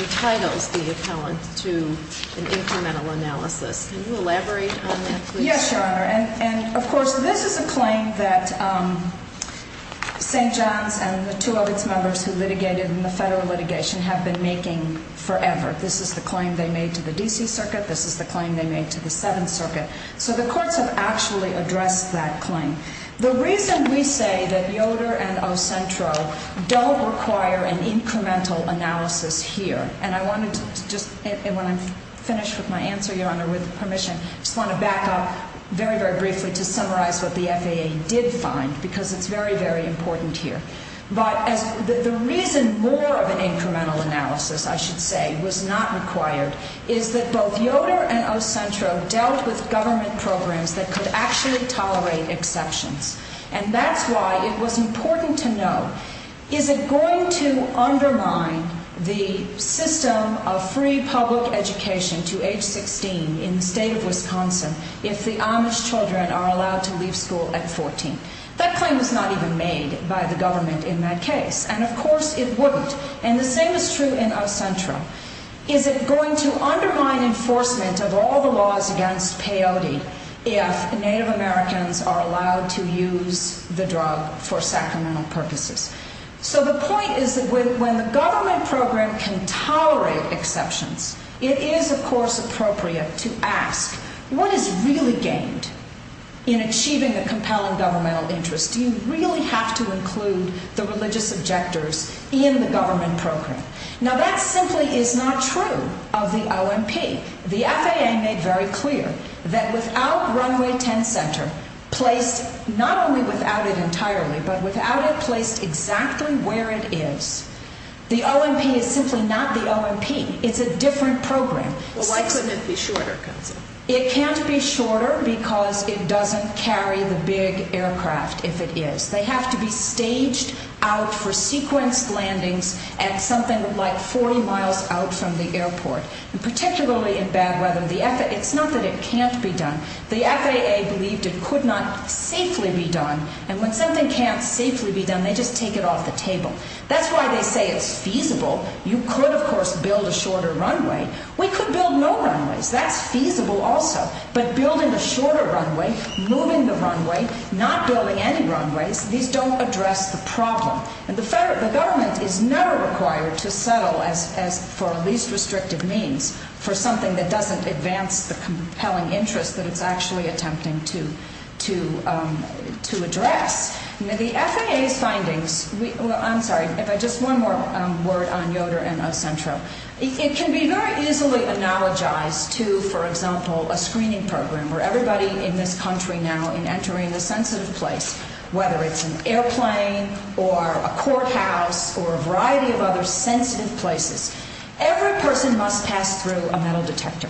entitled the appellant to an incremental analysis. Can you elaborate on this, please? Yes, Your Honor. And, of course, this is a claim that St. John and the two other members who litigated in the federal litigation have been making forever. This is the claim they made to the D.C. Circuit. This is the claim they made to the Seventh Circuit. So the courts have actually addressed that claim. The reason we say that Yoder and O. Centro don't require an incremental analysis here, and when I'm finished with my answer, Your Honor, with permission, I just want to back up very, very briefly to summarize what the FAA did find, because it's very, very important here. The reason more of an incremental analysis, I should say, was not required, is that both Yoder and O. Centro dealt with government programs that could actually tolerate exceptions. And that's why it was important to know, is it going to undermine the system of free public education to age 16 in the state of Wisconsin if the Amish children are allowed to leave school at 14? That claim was not even made by the government in my case. And, of course, it wouldn't. And the same is true in O. Centro. Is it going to undermine enforcement of all the laws against peyote if Native Americans are allowed to use the drug for sacramental purposes? So the point is that when the government program can tolerate exceptions, it is, of course, appropriate to ask, what is really gained in achieving a compelling governmental interest? Do you really have to include the religious objectors in the government program? Now, that simply is not true of the O.M.P. The FAA made very clear that without Runway 10 Center placed, not only without it entirely, but without it placed exactly where it is, the O.M.P. is simply not the O.M.P. It's a different program. Well, why couldn't it be shorter? It can't be shorter because it doesn't carry the big aircraft, if it is. They have to be staged out for sequence landings at something like 40 miles out from the airport. And potentially in bad weather. It's not that it can't be done. The FAA believed it could not safely be done. And when something can't safely be done, they just take it off the table. That's why they say it's feasible. You could, of course, build a shorter runway. We could build no runways. That's feasible also. But building a shorter runway, moving the runway, not building any runways, these don't address the problem. The government is never required to settle for a least restrictive means for something that doesn't advance the compelling interest that it's actually attempting to address. The FAA's findings, I'm sorry, just one more word on Yoder and Accentra. It can be very easily analogized to, for example, a screening program where everybody in this country now is entering a sensitive place. Whether it's an airplane or a courthouse or a variety of other sensitive places. Every person must pass through a metal detector.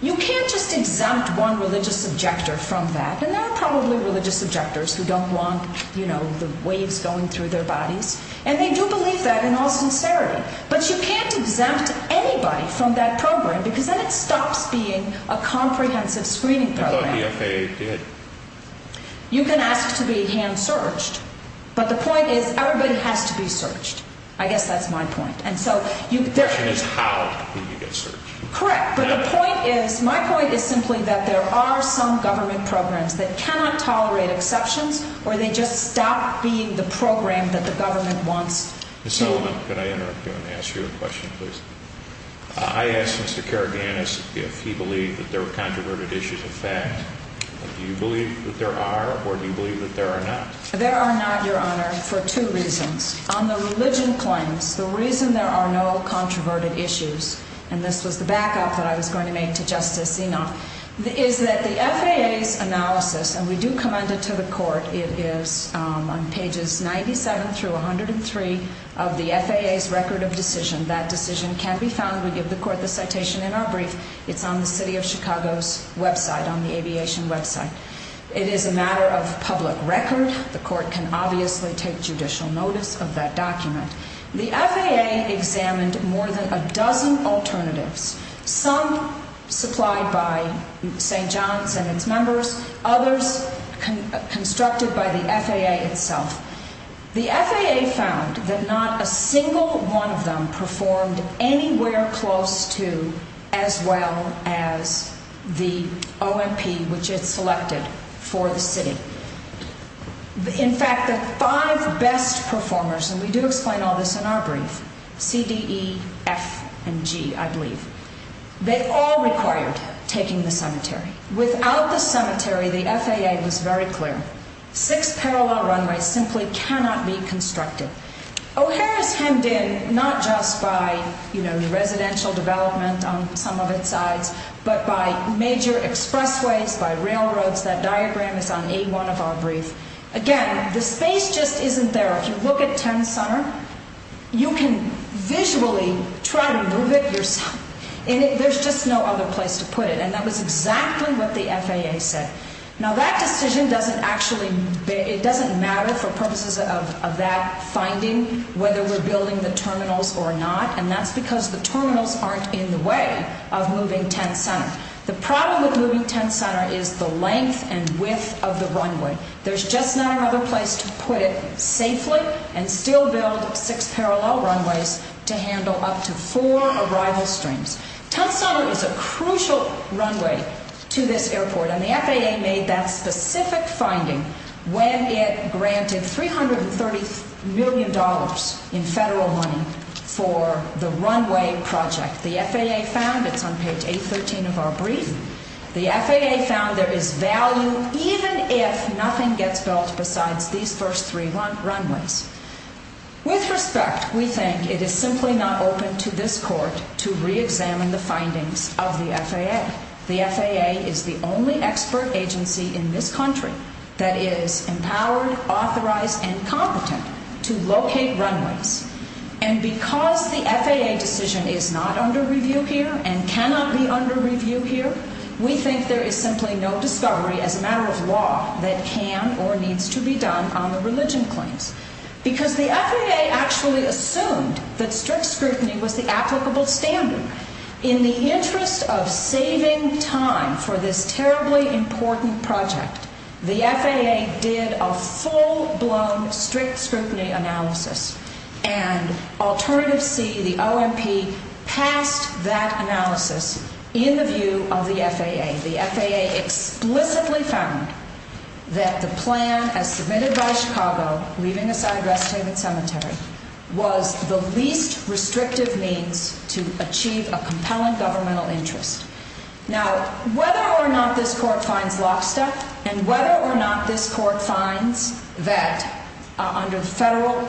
You can't just exempt one religious objector from that. And there are probably religious objectors who don't want, you know, the waves going through their bodies. And they do believe that in all conservatives. But you can't exempt anybody from that program because then it stops being a comprehensive screening program. Well, the FAA did. You can ask to be hand-searched. But the point is, everybody has to be searched. I guess that's my point. And so, there is... And how can you get searched? Correct. But the point is, my point is simply that there are some government programs that cannot tolerate exceptions or they just stop being the program that the government wants. Ms. Sullivan, can I ask you a question, please? I asked Mr. Karagannis if he believed that there were controverted issues in fact. Do you believe that there are or do you believe that there are not? There are not, Your Honor, for two reasons. On the religion claim, the reason there are no controverted issues, and this was the back-up that I was going to make to Justice Dino, is that the FAA's analysis, and we do commend it to the court, it is on pages 97 through 103 of the FAA's record of decision. That decision can be found. We give the court the citation in our brief. It's on the city of Chicago's website, on the aviation website. It is a matter of public record. The court can obviously take judicial notice of that document. The FAA examined more than a dozen alternatives, some supplied by St. John's and its members, others constructed by the FAA itself. The FAA found that not a single one of them performed anywhere close to as well as the OMP which it selected for the city. In fact, the five best performers, and we do explain all this in our brief, C, D, E, F, and G, I believe, they all required taking the cemetery. Without the cemetery, the FAA was very clear. Six parallel runways simply cannot be constructed. O'Hara came in not just by the residential developments on some of its sides, but by major expressways, by railroads. That diagram is on A1 of our brief. Again, the space just isn't there. If you look at Term Center, you can visually try to move it. There's just no other place to put it. That was exactly what the FAA said. Now, that decision doesn't actually matter for purposes of that finding, whether we're building the terminals or not, and that's because the terminals aren't in the way of moving Term Center. The problem with moving Term Center is the length and width of the runway. There's just not another place to put it safely and still build six parallel runways to handle up to four arrival streams. Term Center is a crucial runway to this airport, and the FAA made that specific finding when it granted $330 million in federal money for the runway project. The FAA found it on page 813 of our brief. The FAA found it is valid even if nothing gets built besides these first three runways. With respect, we think it is simply not open to this court to reexamine the findings of the FAA. The FAA is the only expert agency in this country that is empowered, authorized, and competent to locate runways. And because the FAA decision is not under review here and cannot be under review here, we think there is simply no discovery as a matter of law that can or needs to be done on the religion point. Because the FAA actually assumed that strict scrutiny was the applicable standard. In the interest of saving time for this terribly important project, the FAA did a full-blown strict scrutiny analysis. And, alternatively, the OMP passed that analysis in the view of the FAA. The FAA explicitly found that the plan, as permitted by Chicago, leaving aside rest homes and cemeteries, was the least restrictive means to achieve a compelling governmental interest. Now, whether or not this court finds lockstep, and whether or not this court finds that under the federal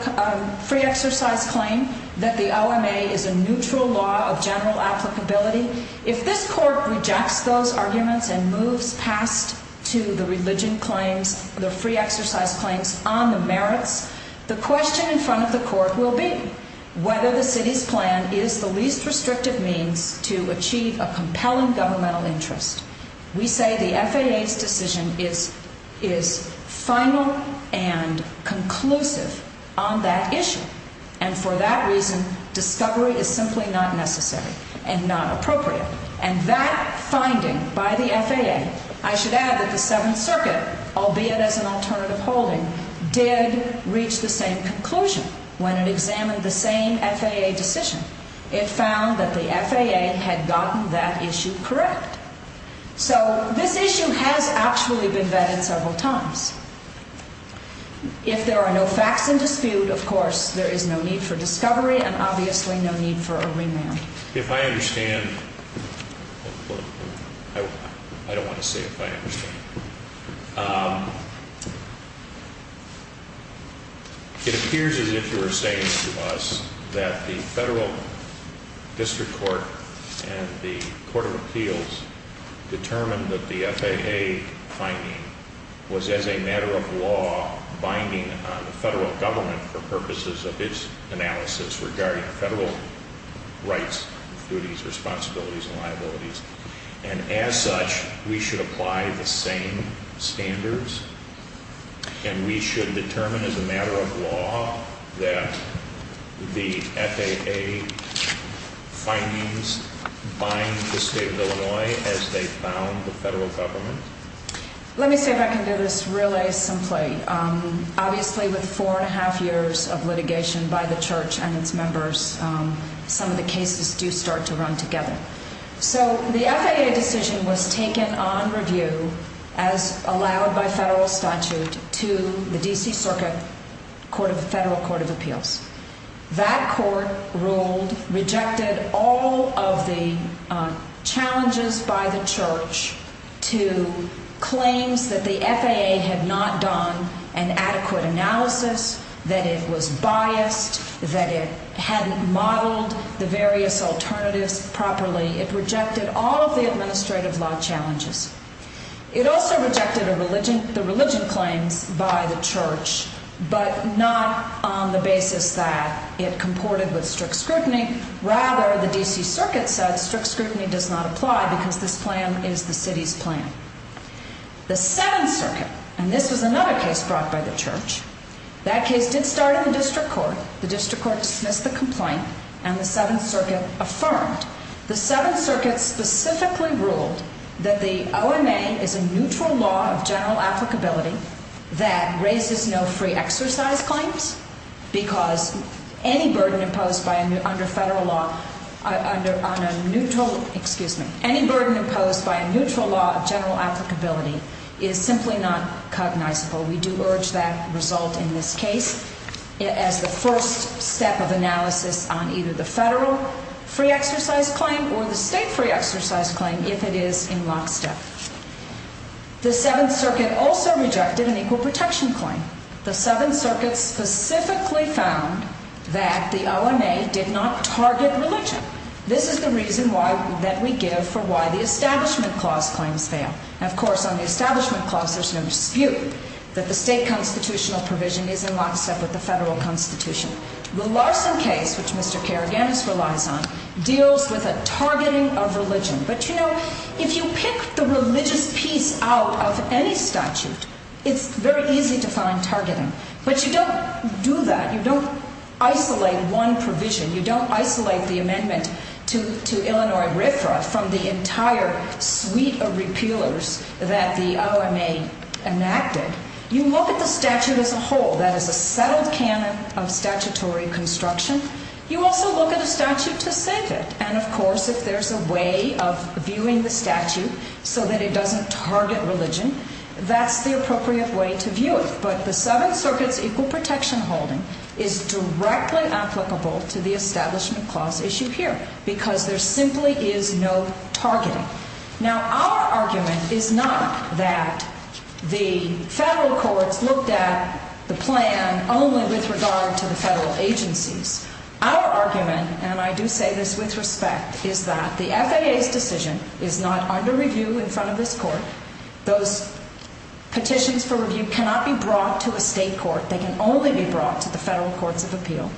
free exercise claim that the LMA is a neutral law of general applicability, if this court rejects those arguments and moves past to the religion claims, the free exercise claims, on the merits, the question in front of the court will be whether the city's plan is the least restrictive means to achieve a compelling governmental interest. We say the FAA's decision is final and conclusive on that issue. And for that reason, discovery is simply not necessary and not appropriate. And that finding by the FAA, I should add, is the Seventh Circuit, albeit as an alternative holding, did reach the same conclusion when it examined the same FAA decision. It found that the FAA had gotten that issue correct. So this issue has actually been vetted several times. If there are no facts in dispute, of course, there is no need for discovery and obviously no need for a remand. If I understand, I don't want to say if I understand. It appears as if you were saying to us that the federal district court and the court of appeals determined that the FAA finding was as a matter of law binding on the federal government for purposes of its analysis regarding federal rights, duties, responsibilities, and liabilities. And as such, we should apply the same standards and we should determine as a matter of law that the FAA findings bind to the state of Illinois as they found the federal government. Let me see if I can do this really simply. Obviously with four and a half years of litigation by the church and its members, some of the cases do start to run together. So the FAA decision was taken on review as allowed by federal statute to the D.C. Circuit Federal Court of Appeals. That court ruled, rejected all of the challenges by the church to claims that the FAA had not done an adequate analysis, that it was biased, that it hadn't modeled the various alternatives properly, it rejected all of the administrative law challenges. It also rejected the religion claim by the church, but not on the basis that it comported with strict scrutiny. Rather, the D.C. Circuit says strict scrutiny does not apply because this plan is the city's plan. The Seventh Circuit, and this is another case brought by the church, that case did start in the district court. The district court dismissed the complaint and the Seventh Circuit affirmed. The Seventh Circuit specifically ruled that the RMA is a neutral law of general applicability that raises no free exercise claims because any burden imposed by a neutral law of general applicability is simply not cognizable. We do urge that result in this case as the first step of analysis on either the federal free exercise claim or the state free exercise claim if it is in lockstep. The Seventh Circuit also rejected an equal protection claim. The Seventh Circuit specifically found that the RMA did not target religion. This is the reason that we give for why the Establishment Clause claims fail. And, of course, on the Establishment Clause there's no dispute that the state constitutional provision is in lockstep with the federal constitution. The Larson case, which Mr. Kerrigan relies on, deals with a targeting of religion. But, you know, if you pick the religious piece out of any statute, it's very easy to find targeting. But you don't do that. You don't isolate one provision. You don't isolate the amendment to Illinois Red Cross from the entire suite of repealers that the RMA enacted. You look at the statute as a whole. That is a subtle canon of statutory construction. You also look at the statute for status. And, of course, if there's a way of viewing the statute so that it doesn't target religion, that's the appropriate way to view it. But the Seventh Circuit's equal protection holding is directly applicable to the Establishment Clause issue here because there simply is no targeting. Now, our argument is not that the federal courts looked at the plan only with regard to the federal agencies. Our argument, and I do say this with respect, is that the FAA's decision is not under review in front of this court. Those petitions for review cannot be brought to a state court. They can only be brought to the federal courts of appeal.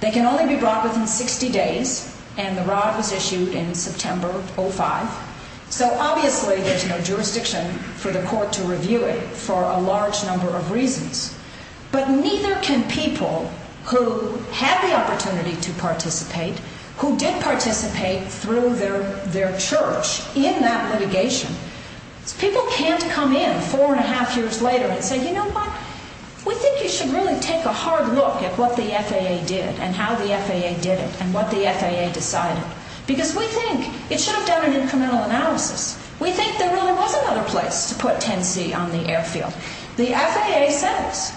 They can only be brought within 60 days. And the rod was issued in September of 2005. So, obviously, there's no jurisdiction for the court to review it for a large number of reasons. But neither can people who have the opportunity to participate, who did participate through their church in that litigation. People can't come in four and a half years later and say, You know what? We think you should really take a hard look at what the FAA did and how the FAA did it and what the FAA decided. Because we think it should have done an incremental analysis. We think there really was another place to put Tennessee on the airfield. The FAA says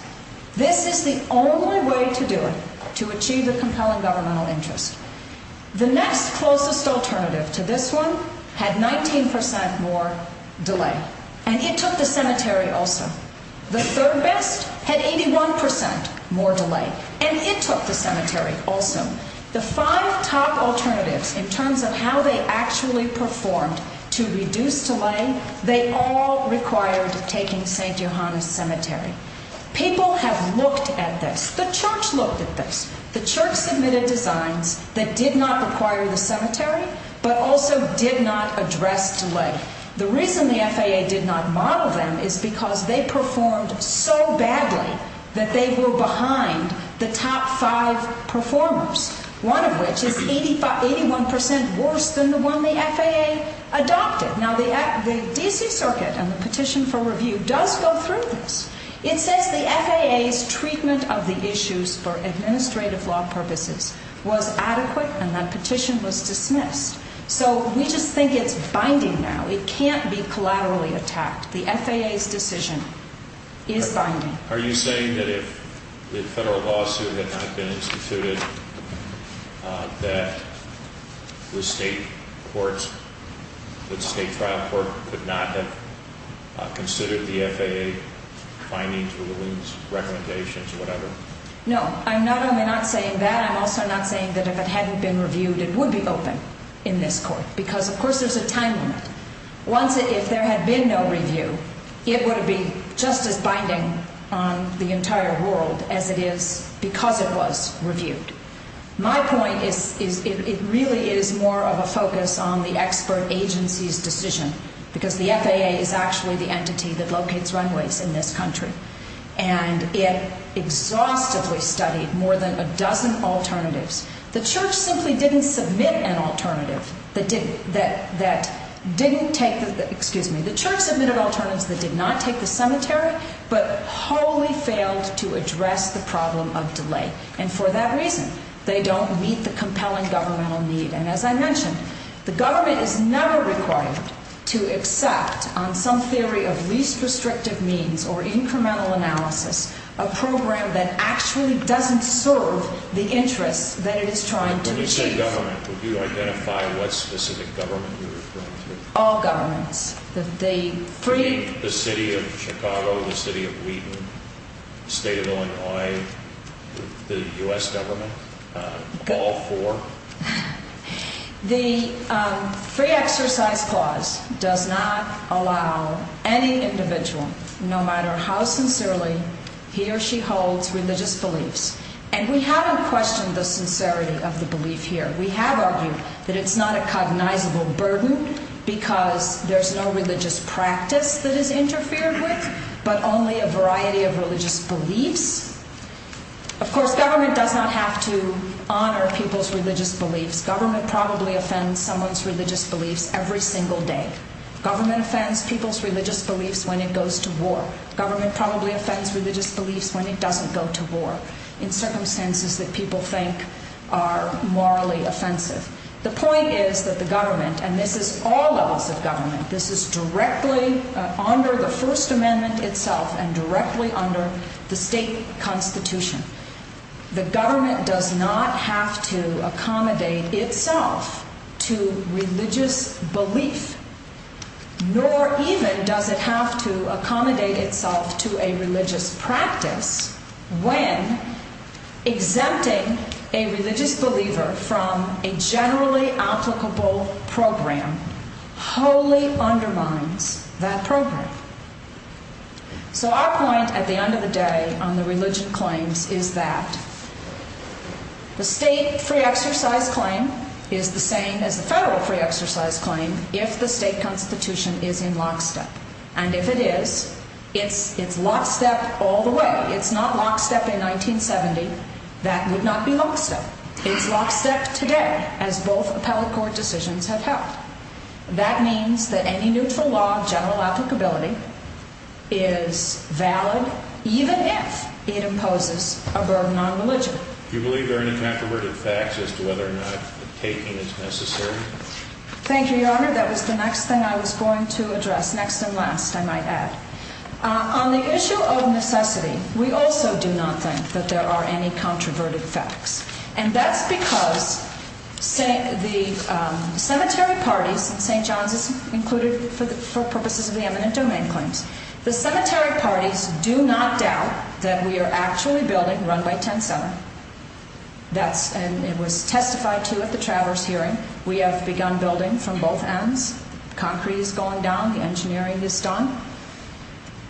this is the only way to do it, to achieve a compelling governmental interest. The next closest alternative to this one had 19% more delay. And it took the cemetery also. The third best had 81% more delay. And it took the cemetery also. The five top alternatives in terms of how they actually performed to reduce delay, they all required taking St. John's Cemetery. People have looked at this. The church looked at this. The church submitted designs that did not require the cemetery but also did not address delay. The reason the FAA did not model them is because they performed so badly that they were behind the top five performers, one of which is 81% worse than the one the FAA adopted. Now, the D.C. Circuit and the petition for review does go through. It says the FAA's treatment of the issues for administrative law participants was adequate and that petition was dismissed. So we just think it's binding now. It can't be collaterally attacked. The FAA's decision is binding. Are you saying that if the federal lawsuit had not been instituted, that the state trial court would not have considered the FAA findings, rulings, recommendations, or whatever? No, I'm not saying that. I'm also not saying that if it hadn't been reviewed, it would be open in this court because, of course, there's a time limit. If there had been no review, it would be just as binding on the entire world as it is because it was reviewed. My point is it really is more of a focus on the expert agency's decision because the FAA is actually the entity that locates runways in this country and it exhaustively studied more than a dozen alternatives. The church simply didn't submit an alternative that didn't take the cemetery, but wholly failed to address the problem of delay. And for that reason, they don't meet the compelling governmental need. And as I mentioned, the government is never required to accept, on some theory of least restrictive means or incremental analysis, a program that actually doesn't serve the interest that it is trying to serve. When you say government, would you identify what specific government you're referring to? All governments. The city of Chicago, the city of Wheaton, the state of Illinois, the U.S. government, all four. The free exercise clause does not allow any individual, no matter how sincerely he or she holds religious beliefs. And we haven't questioned the sincerity of the belief here. We have argued that it's not a cognizable burden because there's no religious practice that it interfered with, but only a variety of religious beliefs. Of course, government does not have to honor people's religious beliefs. Government probably offends someone's religious beliefs every single day. Government offends people's religious beliefs when it goes to war. Government probably offends religious beliefs when it doesn't go to war in circumstances that people think are morally offensive. The point is that the government, and this is all levels of government, this is directly under the First Amendment itself and directly under the state constitution. The government does not have to accommodate itself to religious beliefs, nor even does it have to accommodate itself to a religious practice when exempting a religious believer from a generally applicable program wholly undermines that program. So our point at the end of the day on the religion claims is that the state free exercise claim is the same as the federal free exercise claim if the state constitution is in lockstep. And if it is, if it's lockstep all the way, it's not lockstep in 1970, that would not be lockstep. It's lockstep today, as both appellate court decisions have felt. That means that any neutral law of general applicability is valid even if it imposes a burden on religion. Do you believe there are any controverted facts as to whether or not taking is necessary? Thank you, Your Honor. That was the next thing I was going to address, next and last, I might add. On the issue of necessity, we also do not think that there are any controverted facts. And that's because the cemetery party, St. John's was included for purposes of the eminent domain claim, the cemetery party do not doubt that we are actually building run by 10 fellows. And it was testified to at the travelers' hearing. We have begun building from both ends. Concrete is going down. The engineering is done.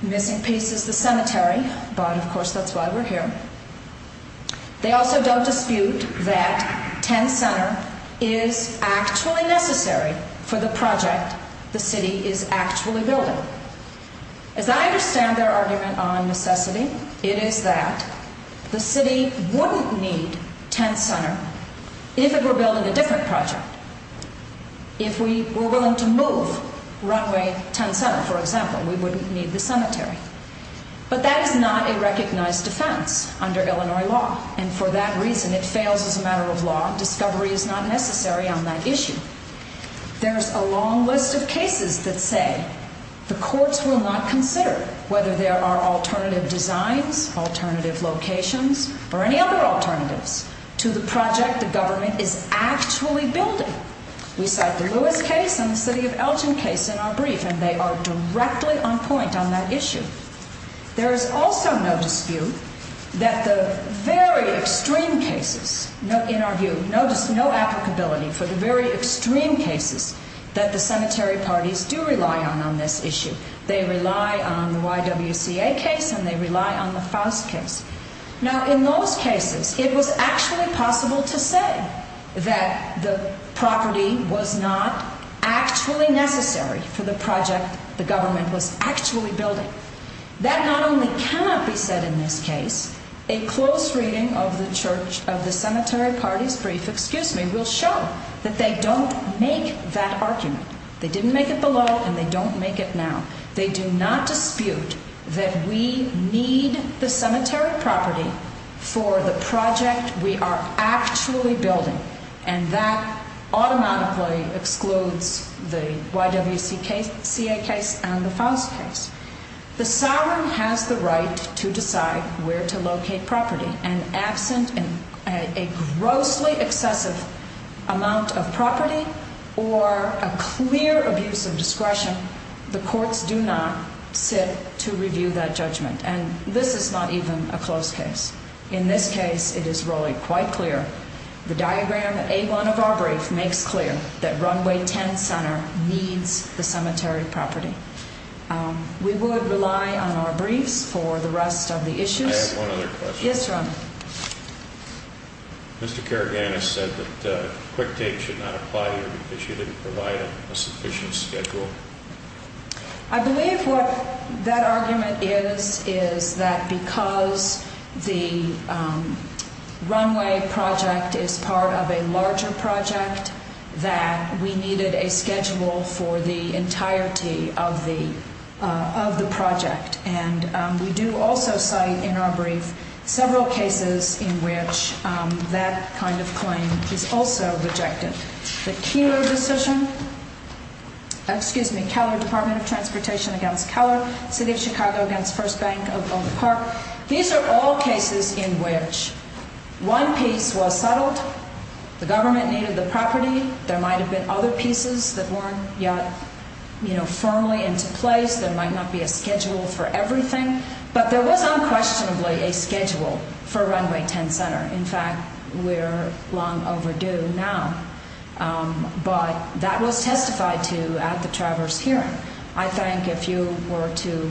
The missing piece is the cemetery. But, of course, that's why we're here. They also don't dispute that 10 fellows is actually necessary for the project the city is actually building. As I understand their argument on necessity, it is that the city wouldn't need 10 fellows even if we're building a different project. If we were willing to move runway 10 fellows, for example, we wouldn't need the cemetery. But that is not a recognized defense under Illinois law. And for that reason, it fails as a matter of law. Discovery is not necessary on that issue. There's a long list of cases to say the courts will not consider whether there are alternative designs, alternative locations, or any other alternatives to the project the government is actually building. We cite the Lewis case and the city of Elgin case in our brief, and they are directly on point on that issue. There is also no dispute that the very extreme cases, in our view, no applicability for the very extreme cases that the cemetery parties do rely on on this issue. They rely on the YWCA case, and they rely on the Faust case. Now, in those cases, it was actually possible to say that the property was not actually necessary for the project the government was actually building. That not only cannot be said in this case. A close reading of the cemetery parties brief will show that they don't make that argument. They didn't make it below us, and they don't make it now. They do not dispute that we need the cemetery property for the project we are actually building, and that automatically excludes the YWCA case and the Faust case. The sovereign has the right to decide where to locate property, and absent a grossly excessive amount of property or a clear abuse of discretion, the courts do not sit to review that judgment, and this is not even a close case. In this case, it is really quite clear. The diagram A1 of our brief makes clear that Runway 10 Center needs the cemetery property. We would rely on our brief for the rest of the issue. I have one other question. Yes, sir. Mr. Caragana said that a quick date should not apply here because you didn't provide a sufficient schedule. I believe what that argument is is that because the runway project is part of a larger project, that we needed a schedule for the entirety of the project. We do also cite in our brief several cases in which that kind of claim is also rejected. The Kelo Department of Transportation against Kelo, City of Chicago against First Bank of Oakland Park. These are all cases in which one piece was settled. The government needed the property. There might have been other pieces that weren't yet firmly in place. There might not be a schedule for everything, but there was unquestionably a schedule for Runway 10 Center. In fact, we're long overdue now, but that was testified to at the Traverse hearing. I think if you were to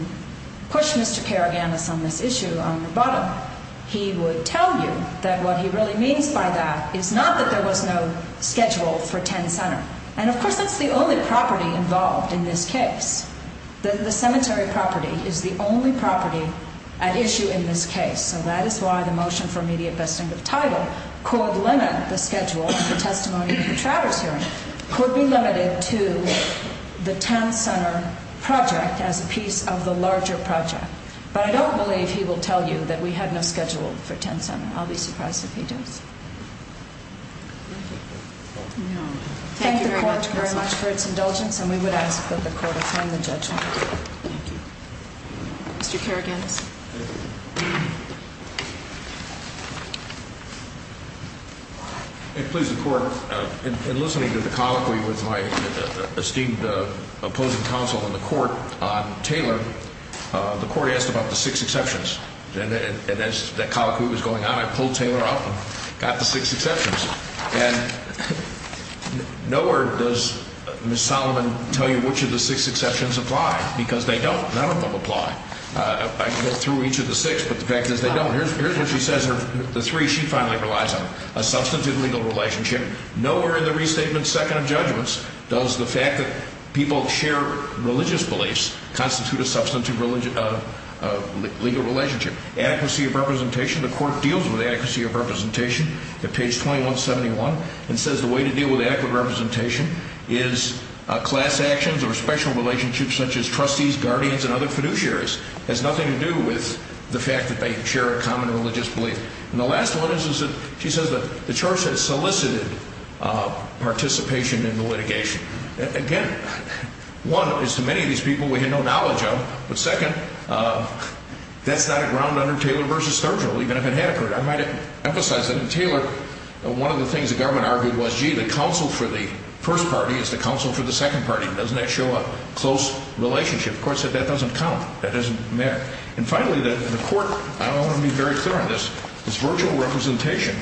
push Mr. Caragana from this issue on the bottom, he would tell you that what he really means by that is not that there was no schedule for 10 Center, and of course that's the only property involved in this case. The cemetery property is the only property at issue in this case, and that is why the motion for immediate best interest title could limit the schedule for testimony at the Traverse hearing could be limited to the 10 Center project as a piece of the larger project. But I don't believe he will tell you that we have no schedule for 10 Center. Thank you very much for your indulgence, and we would ask that the Court accept the judgment. Mr. Caragana. If it pleases the Court, in listening to the comment with my esteemed opposing counsel in the Court, Taylor, the Court asked about the six exceptions, and as the comment was going on, I pulled Taylor out and got the six exceptions. And nowhere does Ms. Toliman tell you which of the six exceptions apply, because they don't. None of them apply. I looked through each of the six, but the fact is they don't. Here's what she says are the three she finally relies on, a substantive legal relationship. Nowhere in the restatement's second of judgments does the fact that people share religious beliefs constitute a substantive legal relationship. Accuracy of representation, the Court deals with accuracy of representation at page 2171, and says the way to deal with accurate representation is class actions or special relationships such as trustees, guardians, and other fiduciaries. It has nothing to do with the fact that they share a common religious belief. And the last one is that she says the Church has solicited participation in the litigation. Again, one, is to many of these people we have no knowledge of. The second, that's not a ground under Taylor v. Thurgood, even if it had occurred. I might emphasize that Taylor, one of the things the government argued was, gee, the counsel for the first party is the counsel for the second party. Doesn't that show a close relationship? Of course, that doesn't count. That doesn't matter. And finally, the Court, I don't want to be very clear on this, is virtual representation.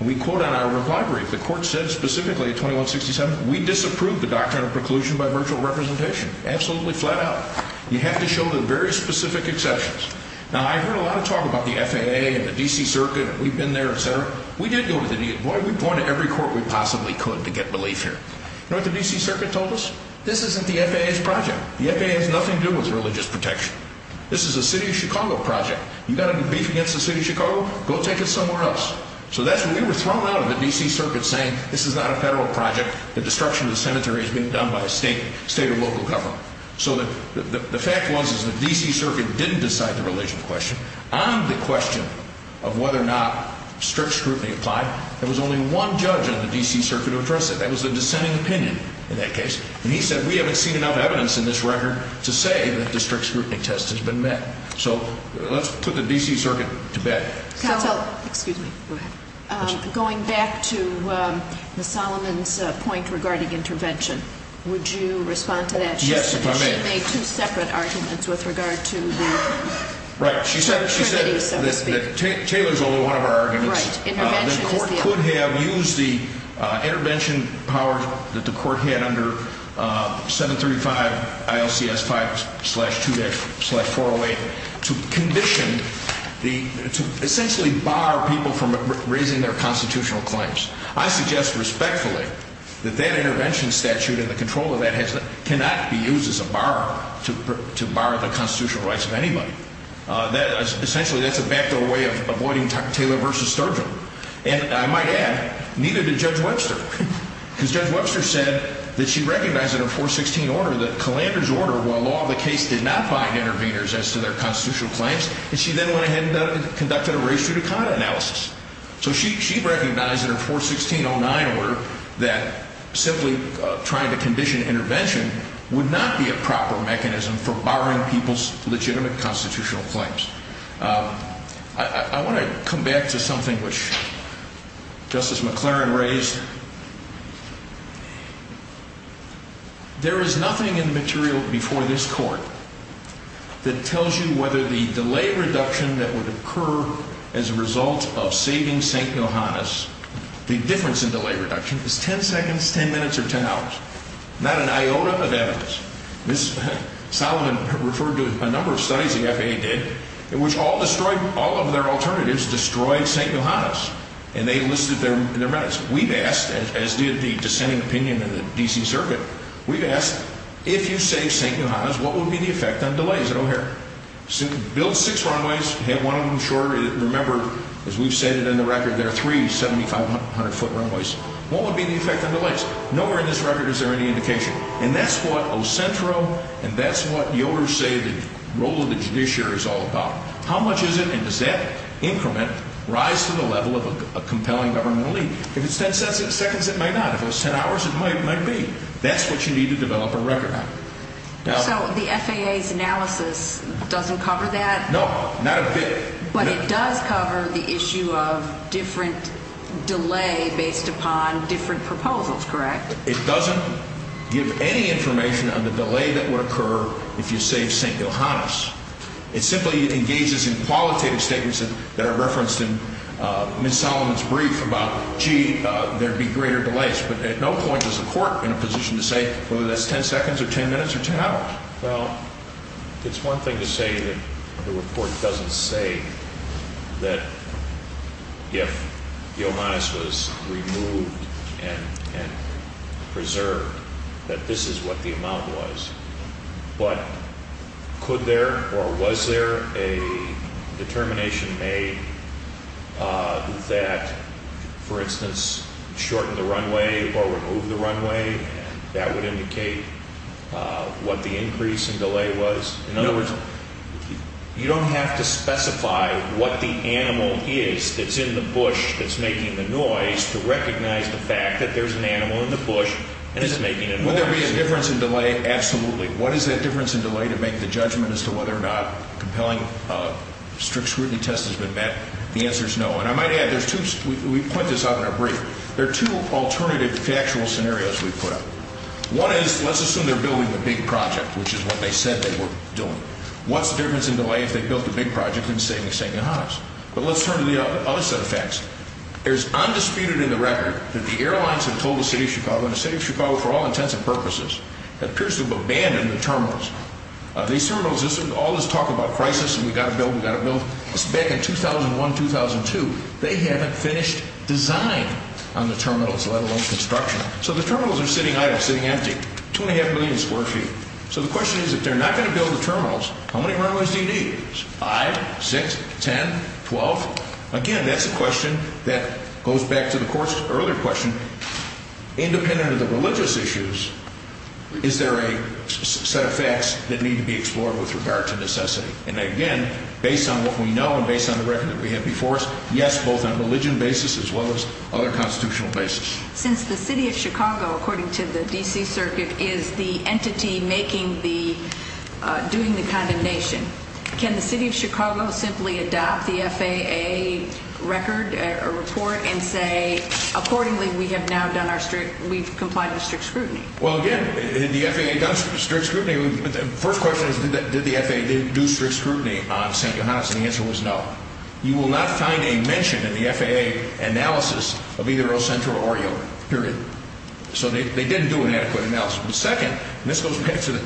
We quote on our record, the Court said specifically at 2167, we disapprove the doctrine of preclusion by virtual representation. Absolutely flat out. You have to show the very specific exceptions. Now, I've heard a lot of talk about the FAA and the D.C. Circuit, and we've been there, et cetera. We did go to the D.C. Boy, we've gone to every court we possibly could to get belief here. You know what the D.C. Circuit told us? This isn't the FAA's project. The FAA has nothing to do with religious protection. This is the city of Chicago project. You've got to compete against the city of Chicago? Go take it somewhere else. So we were thrown out of the D.C. Circuit saying this is not a federal project. The destruction of the cemetery is being done by a state or local government. So the fact was that the D.C. Circuit didn't decide the relational question. On the question of whether or not strict scrutiny applied, there was only one judge on the D.C. Circuit who addressed it. That was a dissenting opinion in that case. And he said we haven't seen enough evidence in this record to say that the strict scrutiny test has been met. So let's put the D.C. Circuit to bed. Going back to Ms. Solomon's point regarding intervention, would you respond to that? Yes, if I may. A two-separate argument with regard to the security of the city. Right. She said that Taylor is one of our arguments. Right. The court could have used the intervention power that the court had under 735 ILCS 5-2-408 to condition, to essentially bar people from raising their constitutional claims. I suggest respectfully that that intervention statute and the control of that cannot be used as a bar to bar the constitutional rights of anybody. Essentially, that's a backdoor way of avoiding Taylor v. Thurgood. And I might add, neither did Judge Webster. Because Judge Webster said that she recognized in her 416 order that Calander's order, while law of the case, did not bind interveners as to their constitutional claims, and she then went ahead and conducted a ratio to conduct analysis. So she recognized in her 416-09 order that simply trying to condition intervention would not be a proper mechanism for barring people's legitimate constitutional claims. I want to come back to something which Justice McLaren raised. There is nothing in the material before this court that tells you whether the delay reduction that would occur as a result of saving St. Johannes, the difference in delay reduction, is 10 seconds, 10 minutes, or 10 hours. Not an iota of evidence. Ms. Solomon referred to a number of studies the FAA did. It was all destroyed, all of their alternatives destroyed St. Johannes. And they listed their methods. We've asked, as we have the dissenting opinion in the D.C. Circuit, we've asked, if you save St. Johannes, what will be the effect on delays that will occur? Those six runways, one of them short, remember, as we've stated in the record, there are three 7,500-foot runways. What will be the effect on delays? Nowhere in this record is there any indication. And that's what Ocentro, and that's what the owners say the role of the judiciary is all about. How much of an exact increment rise to the level of compelling government relief? If it's 10 seconds, it may not. If it's 10 hours, it might be. That's what you need to develop a record on. So the FAA's analysis doesn't cover that? No, not a bit. But it does cover the issue of different delay based upon different proposals, correct? It doesn't give any information on the delay that will occur if you save St. Johannes. It simply engages in qualitative statements that are referenced in Ms. Solomon's brief about, gee, there would be greater delays. But at no point is the court in a position to say whether that's 10 seconds or 10 minutes or 10 hours. Well, it's one thing to say that the report doesn't say that if St. Johannes was removed and preserved that this is what the amount was. But could there or was there a determination made that, for instance, shorten the runway or remove the runway and that would indicate what the increase in delay was? In other words, you don't have to specify what the animal is that's in the bush that's making the noise to recognize the fact that there's an animal in the bush Would there be a difference in delay? Absolutely. What is that difference in delay to make the judgment as to whether or not compelling strict scrutiny test has been met? The answer is no. And I might add, we point this out in our brief, there are two alternative factual scenarios we put. One is, let's assume they're building a big project, which is what they said they were doing. What's the difference in delay if they built a big project in the state of St. Johannes? But let's turn to the other set of facts. It is undisputed in the record that the airlines have told the state of Chicago, and the state of Chicago for all intents and purposes, that Pearson will abandon the terminals. These terminals, all this talk about prices and we've got to build, we've got to build. Back in 2001, 2002, they hadn't finished design on the terminals, let alone construction. So the terminals are sitting idle, sitting empty. Two and a half million is working. So the question is, if they're not going to build the terminals, how many runways do you need? Five, six, ten, twelve? Again, that's a question that goes back to the earlier question. Independent of the religious issues, is there a set of facts that need to be explored with regard to necessity? And again, based on what we know and based on the records we have before us, yes, both on a religion basis as well as other constitutional basis. Since the city of Chicago, according to the D.C. Circuit, is the entity making the, doing the condemnation, can the city of Chicago simply adopt the FAA record or report and say, accordingly we have now done our strict, we've complied with strict scrutiny? Well, again, if the FAA does strict scrutiny, the first question is, did the FAA do strict scrutiny on St. Thomas? And the answer was no. You will not find a mention in the FAA analysis of either El Centro or Oriole, period. So they didn't do an equity analysis. The second, and this goes back to,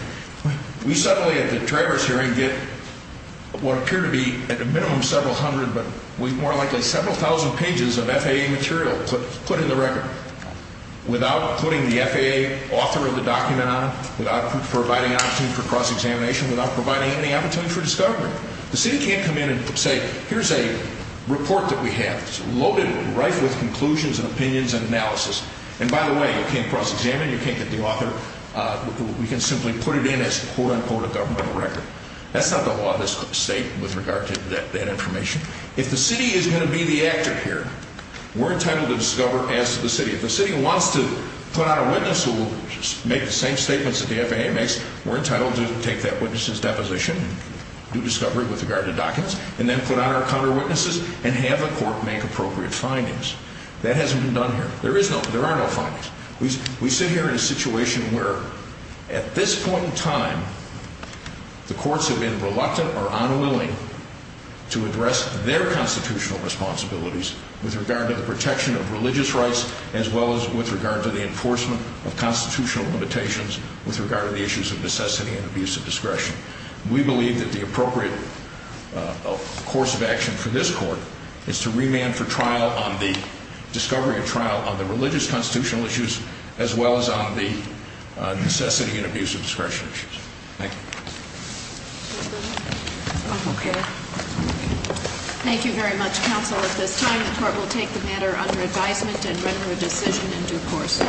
we suddenly at the Trevor hearing get what appear to be at the minimum several hundred, but we more likely have several thousand pages of FAA material put in the record, without putting the FAA author of the document on it, without providing an opportunity for cross-examination, without providing any opportunity for discovery. The city can't come in and say, here's a report that we have. It's loaded right with conclusions and opinions and analysis. And by the way, you can't cross-examine it. You can't get the author. We can simply put it in as a quote-unquote governmental record. That's not the law of this state with regard to that information. If the city isn't going to be the actor here, we're entitled to discover as the city. If the city wants to put out a witness who will make the same statements that the FAA makes, we're entitled to take that witness's deposition, do discovery with regard to documents, and then put out our counter-witnesses and have the court make appropriate triangles. That hasn't been done here. There are no problems. We sit here in a situation where, at this point in time, the courts have been reluctant or unwilling to address their constitutional responsibilities with regard to the protection of religious rights as well as with regard to the enforcement of constitutional limitations with regard to the issues of necessity and abuse of discretion. We believe that the appropriate course of action for this court is to remand for discovery or trial on the religious constitutional issues as well as on the necessity and abuse of discretion issues. Thank you. Thank you very much, counsel. At this time, the court will take the matter under advisement and record a decision in due course.